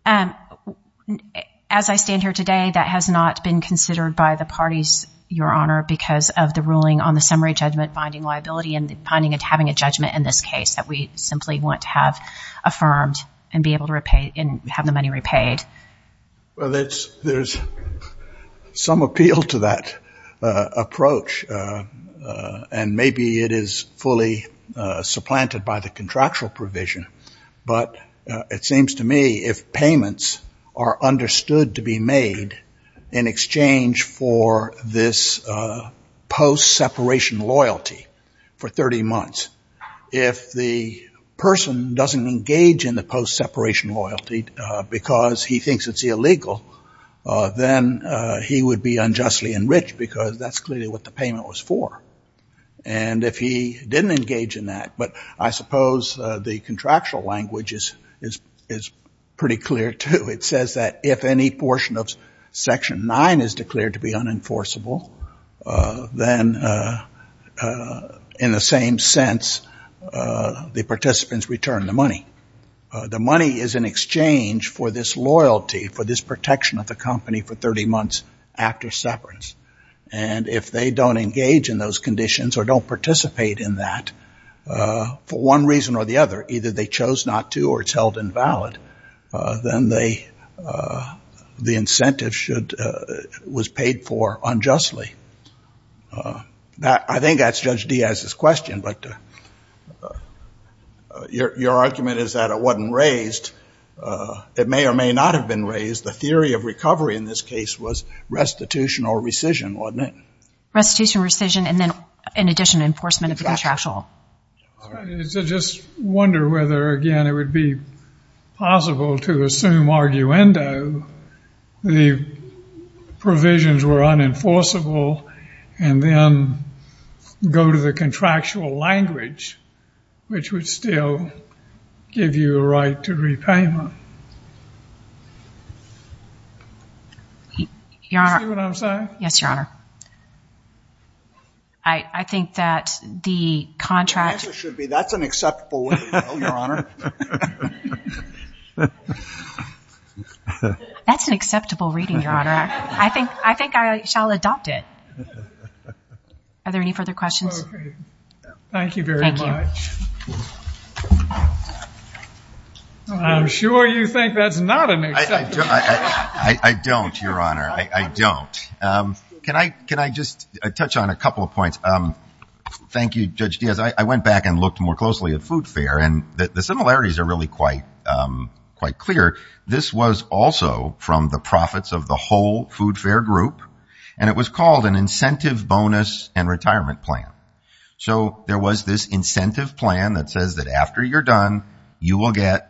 As I stand here today, that has not been considered by the parties, Your Honor, because of the ruling on the summary judgment finding liability and finding it having a judgment in this case that we simply want to have affirmed and be able to repay and have the money repaid. Well, there's some appeal to that approach, and maybe it is fully supplanted by the contractual provision, but it seems to me if payments are understood to be made in exchange for this post-separation loyalty for 30 months, if the person doesn't engage in the post-separation loyalty because he thinks it's illegal, then he would be unjustly enriched because that's clearly what the payment was for. And if he didn't engage in that, but I suppose the contractual language is pretty clear, too. It says that if any portion of Section 9 is declared to be unenforceable, then in the same sense, the participants return the money. The money is in exchange for this loyalty, for this protection of the company for 30 months after separance. And if they don't engage in those conditions or don't participate in that, for one reason or the other, either they chose not to or it's held invalid, then the incentive was paid for unjustly. I think that's Judge Diaz's question, but your argument is that it wasn't raised. It may or may not have been raised. The theory of recovery in this case was restitution or rescission, wasn't it? Restitution, rescission, and then, in addition, enforcement of contractual. I just wonder whether, again, it would be possible to assume arguendo the provisions were unenforceable and then go to the contractual language, which would still give you a right to repayment. Do you see what I'm saying? Yes, Your Honor. I think that the contract. It should be. That's an acceptable reading, Your Honor. That's an acceptable reading, Your Honor. I think I shall adopt it. Are there any further questions? Thank you very much. I'm sure you think that's not acceptable. I don't, Your Honor. I don't. Can I just touch on a couple of points? Thank you, Judge Diaz. I went back and looked more closely at food fare, and the similarities are really quite clear. This was also from the profits of the whole food fare group, and it was called an incentive bonus and retirement plan. So there was this incentive plan that says that after you're done, you will get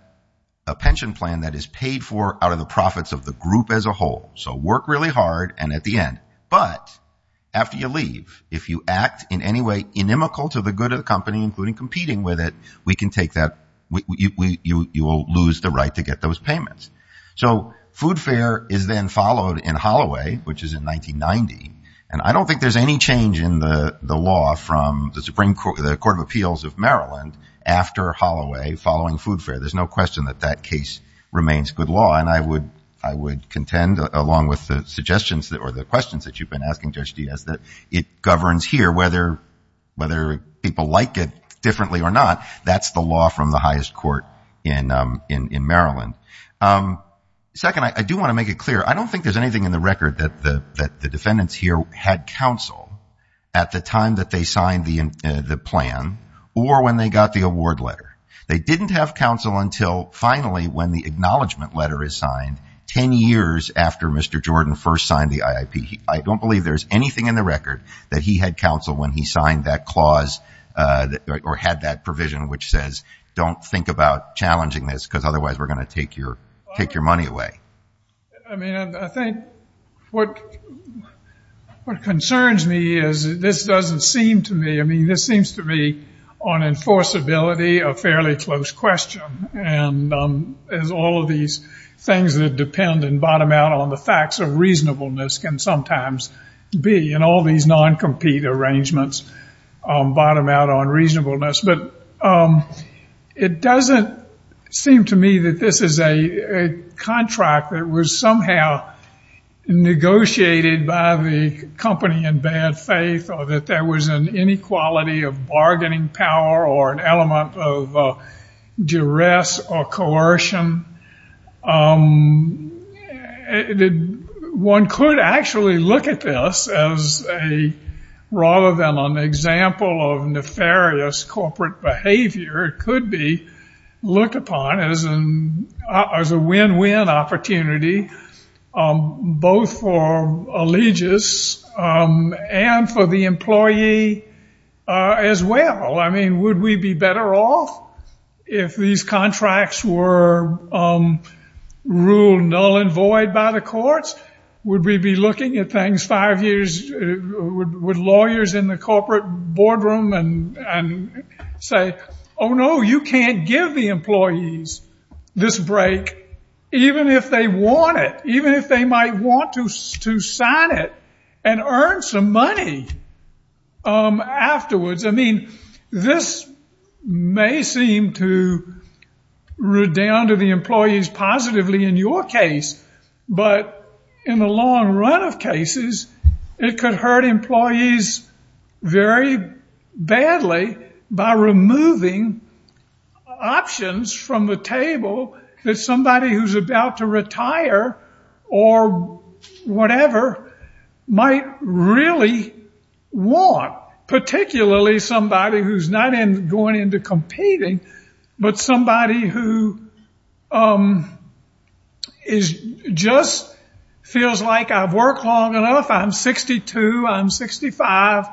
a pension plan that is paid for out of the profits of the group as a whole. So work really hard, and at the end. But after you leave, if you act in any way inimical to the good of the company, including So food fare is then followed in Holloway, which is in 1990, and I don't think there's any change in the law from the Supreme Court, the Court of Appeals of Maryland after Holloway following food fare. There's no question that that case remains good law, and I would contend, along with the suggestions or the questions that you've been asking, Judge Diaz, that it governs here whether people like it differently or not. That's the law from the highest court in Maryland. Second, I do want to make it clear. I don't think there's anything in the record that the defendants here had counsel at the time that they signed the plan or when they got the award letter. They didn't have counsel until finally when the acknowledgment letter is signed, 10 years after Mr. Jordan first signed the IIP. I don't believe there's anything in the record that he had counsel when he signed that clause or had that provision which says don't think about challenging this, because otherwise we're going to take your money away. I mean, I think what concerns me is this doesn't seem to me, I mean, this seems to be on enforceability a fairly close question, and as all of these things that depend and bottom out on the facts of reasonableness can sometimes be in all these non-compete arrangements, bottom out on reasonableness. But it doesn't seem to me that this is a contract that was somehow negotiated by the company in bad faith or that there was an inequality of bargaining power or an element of duress or coercion. And one could actually look at this as a rather than an example of nefarious corporate behavior, it could be looked upon as a win-win opportunity, both for Allegis and for the employee as well. I mean, would we be better off if these contracts were ruled null and void by the courts? Would we be looking at things five years, would lawyers in the corporate boardroom say, oh, no, you can't give the employees this break even if they want it, even if they might want to sign it and earn some money afterwards? I mean, this may seem to redound to the employees positively in your case, but in the long run of cases, it could hurt employees very badly by removing options from the table that somebody who's not going into competing, but somebody who just feels like I've worked long enough, I'm 62, I'm 65,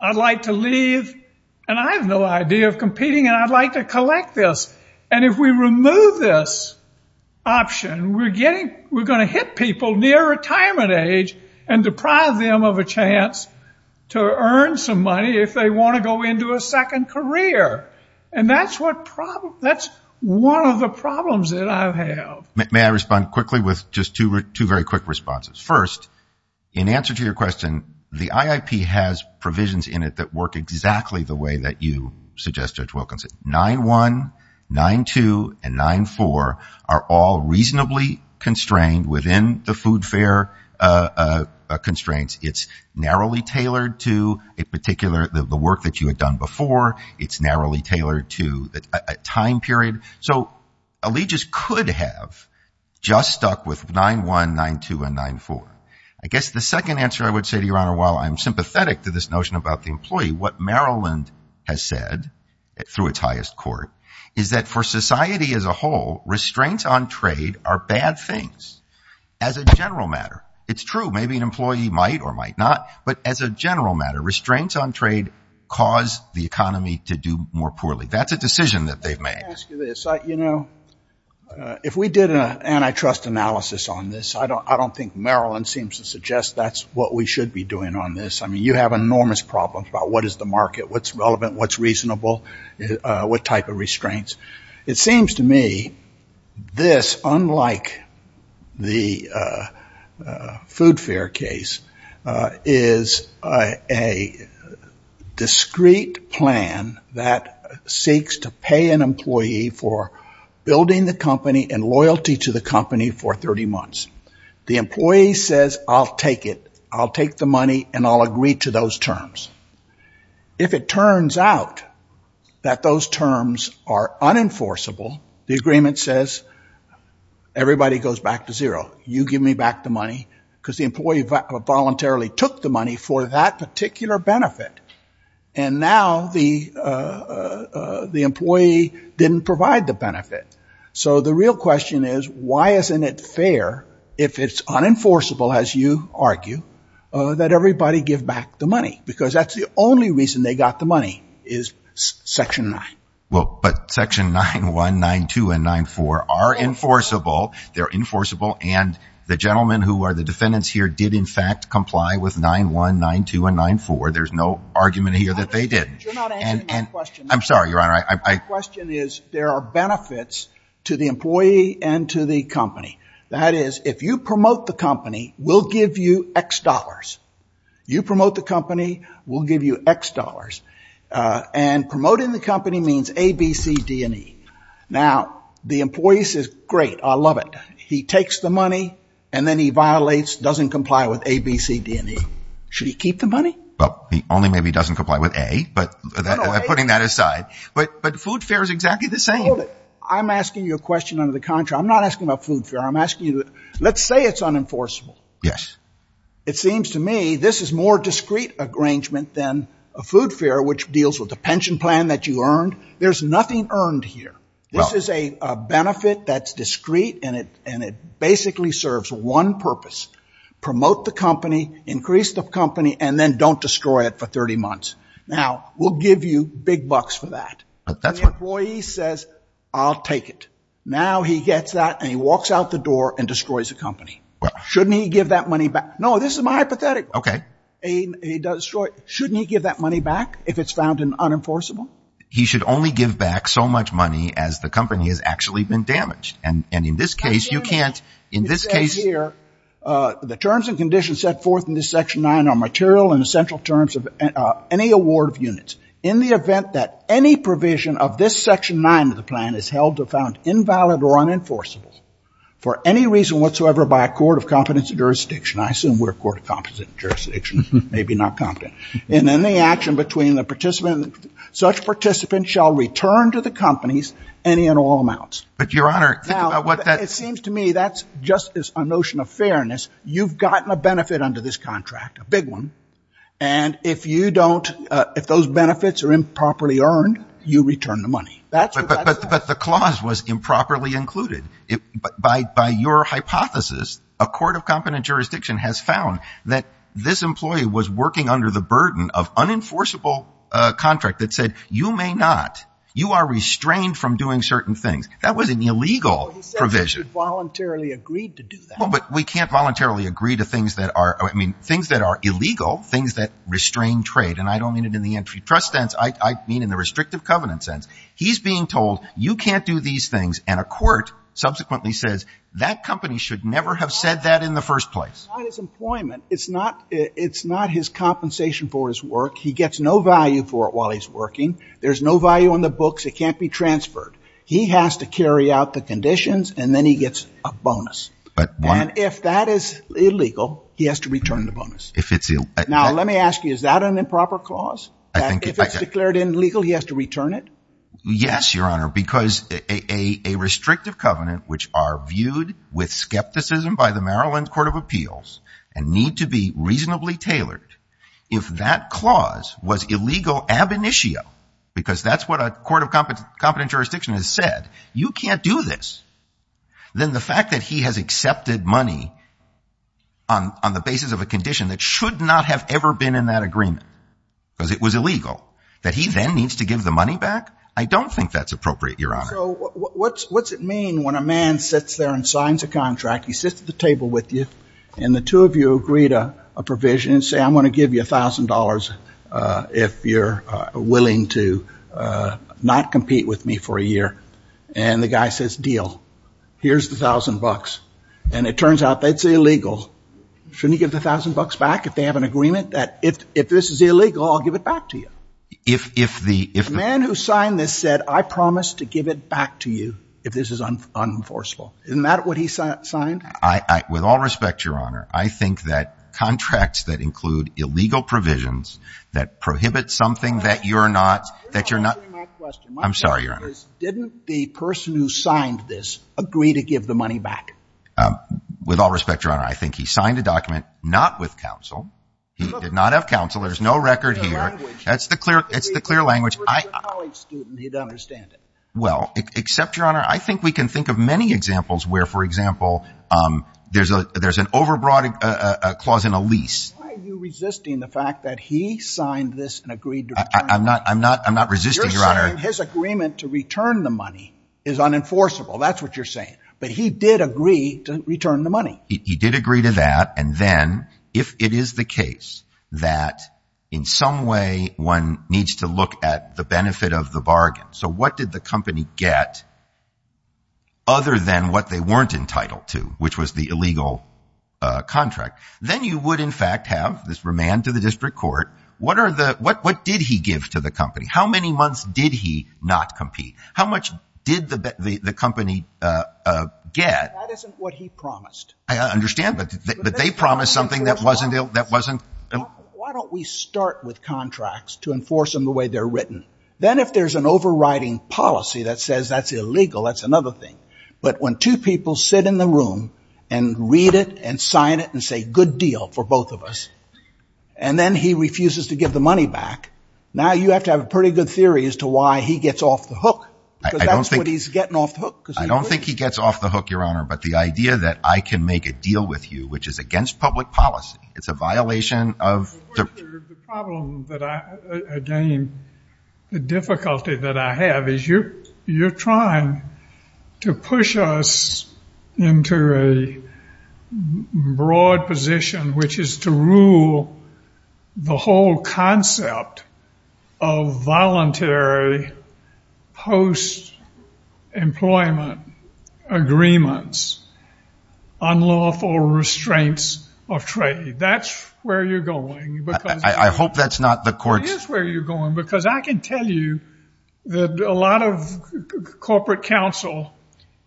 I'd like to leave and I have no idea of competing and I'd like to collect this. And if we remove this option, we're going to hit people near retirement age and deprive them of a chance to earn some money if they want to go into a second career. And that's one of the problems that I've had. May I respond quickly with just two very quick responses? First, in answer to your question, the IIP has provisions in it that work exactly the way that you suggested, Judge Wilkinson. 9-1, 9-2, and 9-4 are all reasonably constrained within the food fare constraints. It's narrowly tailored to the work that you had done before. It's narrowly tailored to a time period. So Allegis could have just stuck with 9-1, 9-2, and 9-4. I guess the second answer I would say, Your Honor, while I'm sympathetic to this notion about the employee, what Maryland has said through its highest court is that for society as a whole, restraints on trade are bad things as a general matter. It's true. Maybe an employee might or might not, but as a general matter, restraints on trade cause the economy to do more poorly. That's a decision that they've made. If we did an antitrust analysis on this, I don't think Maryland seems to suggest that's what we should be doing on this. You have enormous problems about what is the market, what's relevant, what's reasonable, what type of restraints. It seems to me this, unlike the food fare case, is a discreet plan that seeks to pay an employee for building the company and loyalty to the company for 30 months. The employee says, I'll take it. I'll agree to those terms. If it turns out that those terms are unenforceable, the agreement says, everybody goes back to zero. You give me back the money, because the employee voluntarily took the money for that particular benefit, and now the employee didn't provide the benefit. The real question is, why isn't it fair, if it's unenforceable, as you argue, that everybody give back the money, because that's the only reason they got the money, is Section 9. Section 9.1, 9.2, and 9.4 are enforceable. They're enforceable, and the gentlemen who are the defendants here did, in fact, comply with 9.1, 9.2, and 9.4. There's no argument here that they didn't. I'm sorry, Your Honor. My question is, there are benefits to the employee and to the company. That is, if you promote the company, we'll give you X dollars. You promote the company, we'll give you X dollars. And promoting the company means A, B, C, D, and E. Now, the employee says, great, I love it. He takes the money, and then he violates, doesn't comply with A, B, C, D, and E. Should he keep the money? Well, he only maybe doesn't comply with A, but putting that aside. But food fare is exactly the same. I'm asking you a question under the contract. I'm not asking about food fare. I'm asking you, let's say it's unenforceable. Yes. It seems to me this is more discrete arrangement than a food fare, which deals with the pension plan that you earned. There's nothing earned here. This is a benefit that's discrete, and it basically serves one purpose. Promote the company, increase the company, and then don't destroy it for 30 months. Now, we'll give you big bucks for that. But the employee says, I'll take it. Now, he gets that, and he walks out the door and destroys the company. Shouldn't he give that money back? No, this is my hypothetical. OK. Shouldn't he give that money back if it's found unenforceable? He should only give back so much money as the company has actually been damaged. And in this case, you can't. In this case here, the terms and conditions set forth in this section 9 are material and essential terms of any award of units. In the event that any provision of this section 9 of the plan is held to have found invalid or unenforceable for any reason whatsoever by a court of competence and jurisdiction, I assume we're a court of competence and jurisdiction, maybe not competent. And then the action between the participant and such participant shall return to the companies any and all amounts. But your honor, what that seems to me, that's just a notion of fairness. You've gotten a benefit under this contract, a big one, and if those benefits are improperly earned, you return the money. But the clause was improperly included. By your hypothesis, a court of competence and jurisdiction has found that this employee was working under the burden of unenforceable contract that said, you may not. You are restrained from doing certain things. That was an illegal provision. But he said we should voluntarily agree to do that. Well, but we can't voluntarily agree to things that are, I mean, things that are illegal, things that restrain trade. And I don't mean it in the antitrust sense. I mean, in the restrictive covenant sense, he's being told you can't do these things. And a court subsequently says that company should never have said that in the first place. It's not his employment. It's not it's not his compensation for his work. He gets no value for it while he's working. There's no value on the books. It can't be transferred. He has to carry out the conditions and then he gets a bonus. If that is illegal, he has to return the bonus. Now, let me ask you, is that an improper clause? If it's declared illegal, he has to return it? Yes, Your Honor, because a restrictive covenant, which are viewed with skepticism by the Maryland Court of Appeals and need to be reasonably tailored, if that clause was illegal ab initio, because that's what a court of competent jurisdiction has said, you can't do this. Then the fact that he has accepted money on the basis of a condition that should not have ever been in that agreement, because it was illegal, that he then needs to give the money back? I don't think that's appropriate, Your Honor. So what's it mean when a man sits there and signs a contract, he sits at the table with you, and the two of you agree to a provision and say, I'm going to give you $1,000 if you're willing to not compete with me for a year. And the guy says, deal. Here's the $1,000. And it turns out that's illegal. Shouldn't you give the $1,000 back if they have an agreement that if this is illegal, I'll give it back to you? The man who signed this said, I promise to give it back to you if this is unenforceable. Isn't that what he signed? With all respect, Your Honor, I think that contracts that include illegal provisions that prohibit something that you're not that you're not. I'm sorry, Your Honor. Didn't the person who signed this agree to give the money back? With all respect, Your Honor, I think he signed a document not with counsel. He did not have counsel. There's no record here. That's the clear language. If he was a college student, he'd understand it. Well, except, Your Honor, I think we can think of many examples where, for example, there's an overbroad clause in a lease. Why are you resisting the fact that he signed this and agreed to return it? I'm not resisting, Your Honor. You're saying his agreement to return the money is unenforceable. That's what you're saying. But he did agree to return the money. He did agree to that. And then, if it is the case that, in some way, one needs to look at the benefit of the bargain. So what did the company get other than what they weren't entitled to, which was the illegal contract? Then you would, in fact, have this remand to the district court. What did he give to the company? How many months did he not compete? How much did the company get? That isn't what he promised. I understand, but they promised something that wasn't. Why don't we start with contracts to enforce them the way they're written? Then, if there's an overriding policy that says that's illegal, that's another thing. But when two people sit in the room and read it and sign it and say, good deal for both of us, and then he refuses to give the money back, now you have to have a pretty good theory as to why he gets off the hook. Because that's what he's getting off the hook. I don't think he gets off the hook, Your Honor. But the idea that I can make a deal with you, which is against public policy. It's a violation of the problem that I, again, the difficulty that I have is you're trying to push us into a broad position, which is to rule the whole concept of voluntary post-employment agreements on lawful restraints of trade. That's where you're going. I hope that's not the court's. It is where you're going. Because I can tell you that a lot of corporate counsel,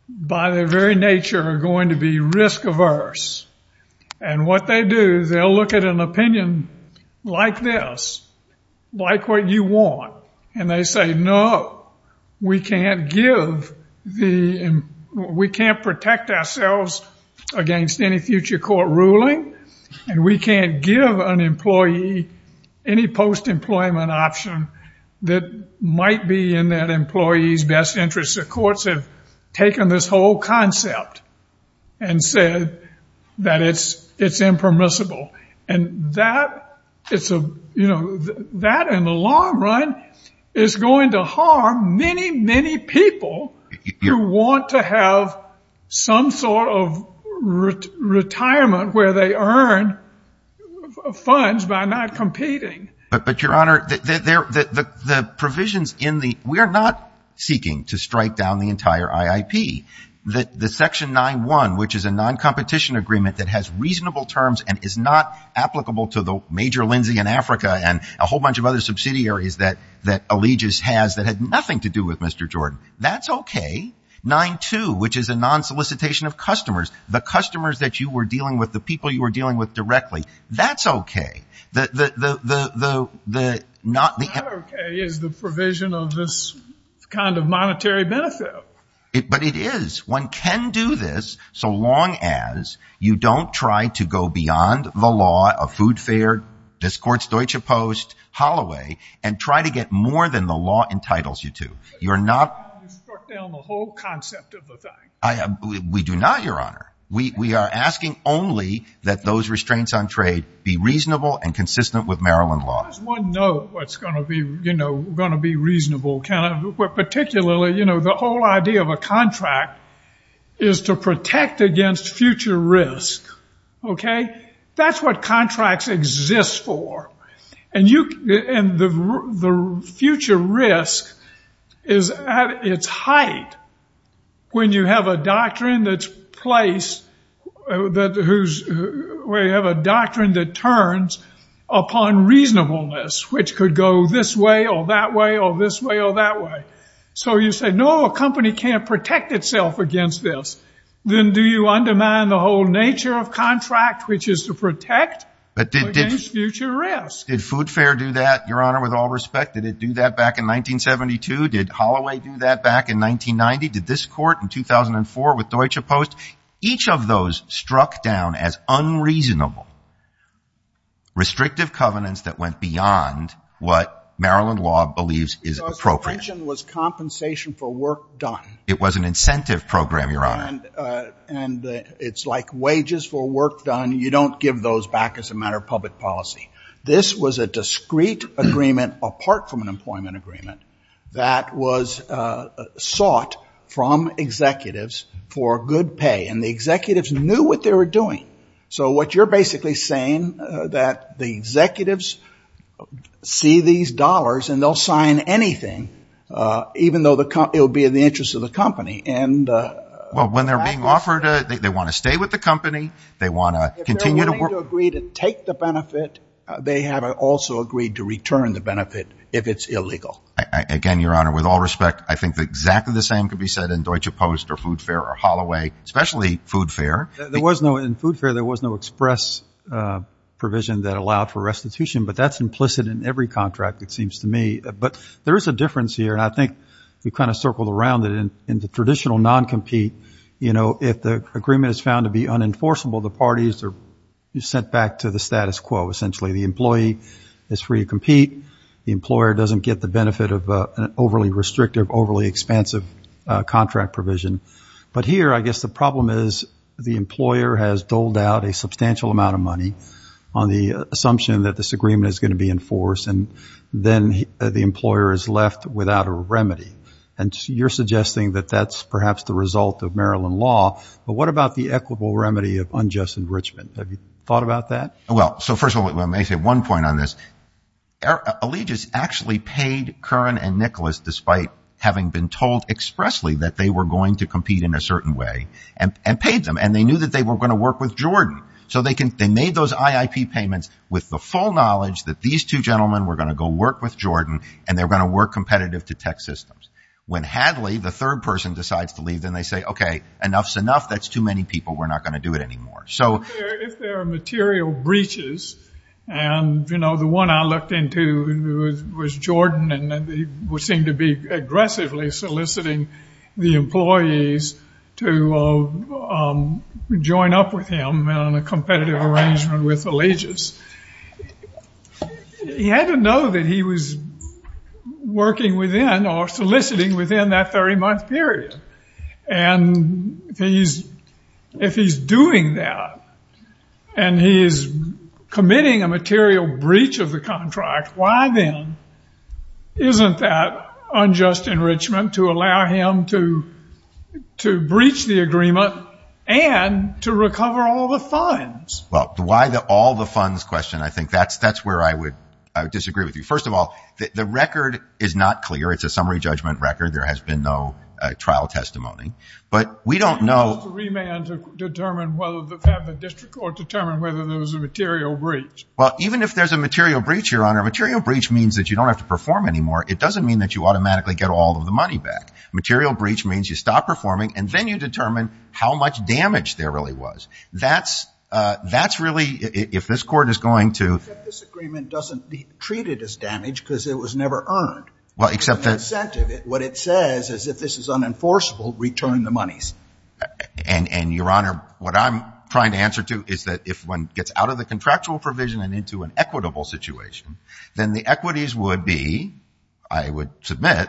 by their very nature, are going to be risk averse. And what they do, they'll look at an opinion like this, like what you want, and they say, no, we can't give the, we can't protect ourselves against any future court ruling, and we can't give an employee any post-employment option that might be in that employee's best interest. The courts have taken this whole concept and said that it's impermissible. And that, in the long run, is going to harm many, many people who want to have some sort of retirement where they earn funds by not competing. But, Your Honor, the provisions in the, we are not seeking to strike down the entire IIP. The Section 9-1, which is a non-competition agreement that has reasonable terms and is not applicable to the Major Lindsay in Africa and a whole bunch of other subsidiaries that Allegis has that had nothing to do with Mr. Jordan, that's OK. 9-2, which is a non-solicitation of customers, the customers that you were dealing with, the people you were dealing with directly, that's OK. The not OK is the provision of this kind of monetary benefit. But it is. One can do this so long as you don't try to go beyond the law of food fare, this court's Deutsche Post, Holloway, and try to get more than the law entitles you to. You're not. You're going to strike down the whole concept of the thing. We do not, Your Honor. We are asking only that those restraints on trade be reasonable and consistent with Maryland laws. One note that's going to be reasonable, particularly the whole idea of a contract is to protect against future risk. That's what contracts exist for. And the future risk is at its height when you have a doctrine that turns upon reasonableness, which could go this way or that way or this way or that way. So you say, no, a company can't protect itself against this. Then do you undermine the whole nature of contract, which is to protect against future risk? Did food fare do that, Your Honor, with all respect? Did it do that back in 1972? Did Holloway do that back in 1990? Did this court in 2004 with Deutsche Post? Each of those struck down as unreasonable, restrictive covenants that went beyond what Maryland law believes is appropriate. So as you mentioned, it was compensation for work done. It was an incentive program, Your Honor. And it's like wages for work done. You don't give those back as a matter of public policy. This was a discrete agreement apart from an employment agreement that was sought from executives for good pay. And the executives knew what they were doing. So what you're basically saying that the executives see these dollars, and they'll sign anything, even though it will be in the interest of the company. And when they're being offered, they want to stay with the company. They want to continue to work. If they're willing to agree to take the benefit, they have also agreed to return the benefit if it's illegal. Again, Your Honor, with all respect, I think exactly the same could be said in Deutsche Post or Food Fair or Holloway, especially Food Fair. In Food Fair, there was no express provision that allowed for restitution. But that's implicit in every contract, it seems to me. But there is a difference here. And I think you kind of circled around it. And in the traditional non-compete, if the agreement is found to be unenforceable, the parties are sent back to the status quo, essentially. The employee is free to compete. The employer doesn't get the benefit of an overly restrictive, overly expansive contract provision. But here, I guess the problem is the employer has doled out a substantial amount of money on the assumption that this agreement is going to be enforced. And then the employer is left without a remedy. And you're suggesting that that's perhaps the result of Maryland law. But what about the equitable remedy of unjust enrichment? Have you thought about that? Well, so first of all, let me make one point on this. Allegis actually paid Curran and Nicholas despite having been told expressly that they were going to compete in a certain way and paid them. And they knew that they were going to work with Jordan. So they made those IIP payments with the full knowledge that these two gentlemen were going to go work with Jordan. And they're going to work competitive to tech systems. When Hadley, the third person, decides to leave, then they say, OK, enough's enough. That's too many people. We're not going to do it anymore. So if there are material breaches, and the one I looked into was Jordan. And he seemed to be aggressively soliciting the employees to join up with him on a competitive arrangement with Allegis. He had to know that he was working within or soliciting within that 30-month period. And if he's doing that, and he's committing a material breach of the contract, why then isn't that unjust enrichment to allow him to breach the agreement and to recover all the funds? Well, the why all the funds question, I think that's where I would disagree with you. First of all, the record is not clear. It's a summary judgment record. There has been no trial testimony. But we don't know. It's a remand to determine whether the district or determine whether there was a material breach. Well, even if there's a material breach, your honor, material breach means that you don't have to perform anymore. It doesn't mean that you automatically get all of the money back. Material breach means you stop performing, and then you determine how much damage there really was. That's really, if this court is going to. This agreement doesn't be treated as damage because it was never earned. Well, except that's. What it says is if this is unenforceable, return the monies. And your honor, what I'm trying to answer to is that if one gets out of the contractual provision and into an equitable situation, then the equities would be, I would submit,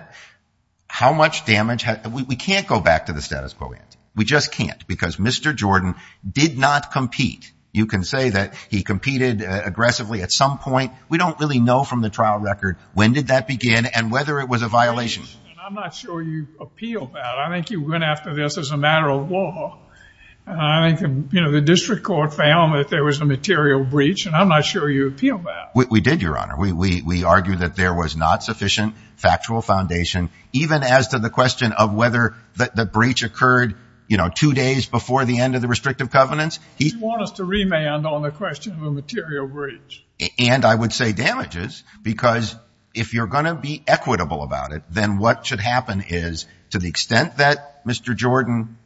how much damage, we can't go back to the status quo yet. We just can't because Mr. Jordan did not compete. You can say that he competed aggressively at some point. We don't really know from the trial record when did that begin and whether it was a violation. I'm not sure you appealed that. I think you went after this as a matter of law. The district court found that there was a material breach, and I'm not sure you appealed that. We did, your honor. We argued that there was not sufficient factual foundation, even as to the question of whether the breach occurred two days before the end of the restrictive covenants. He wants to remand on the question of the material breach. And I would say damages because if you're going to be equitable about it, then what should happen is, to the extent that Mr. Jordan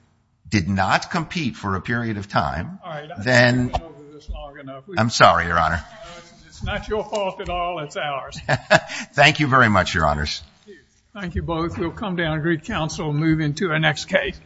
did not compete for a period of time, then... All right, let's not go over this long enough. I'm sorry, your honor. It's not your fault at all, it's ours. Thank you very much, your honors. Thank you both. We'll come down and greet counsel and move into our next case.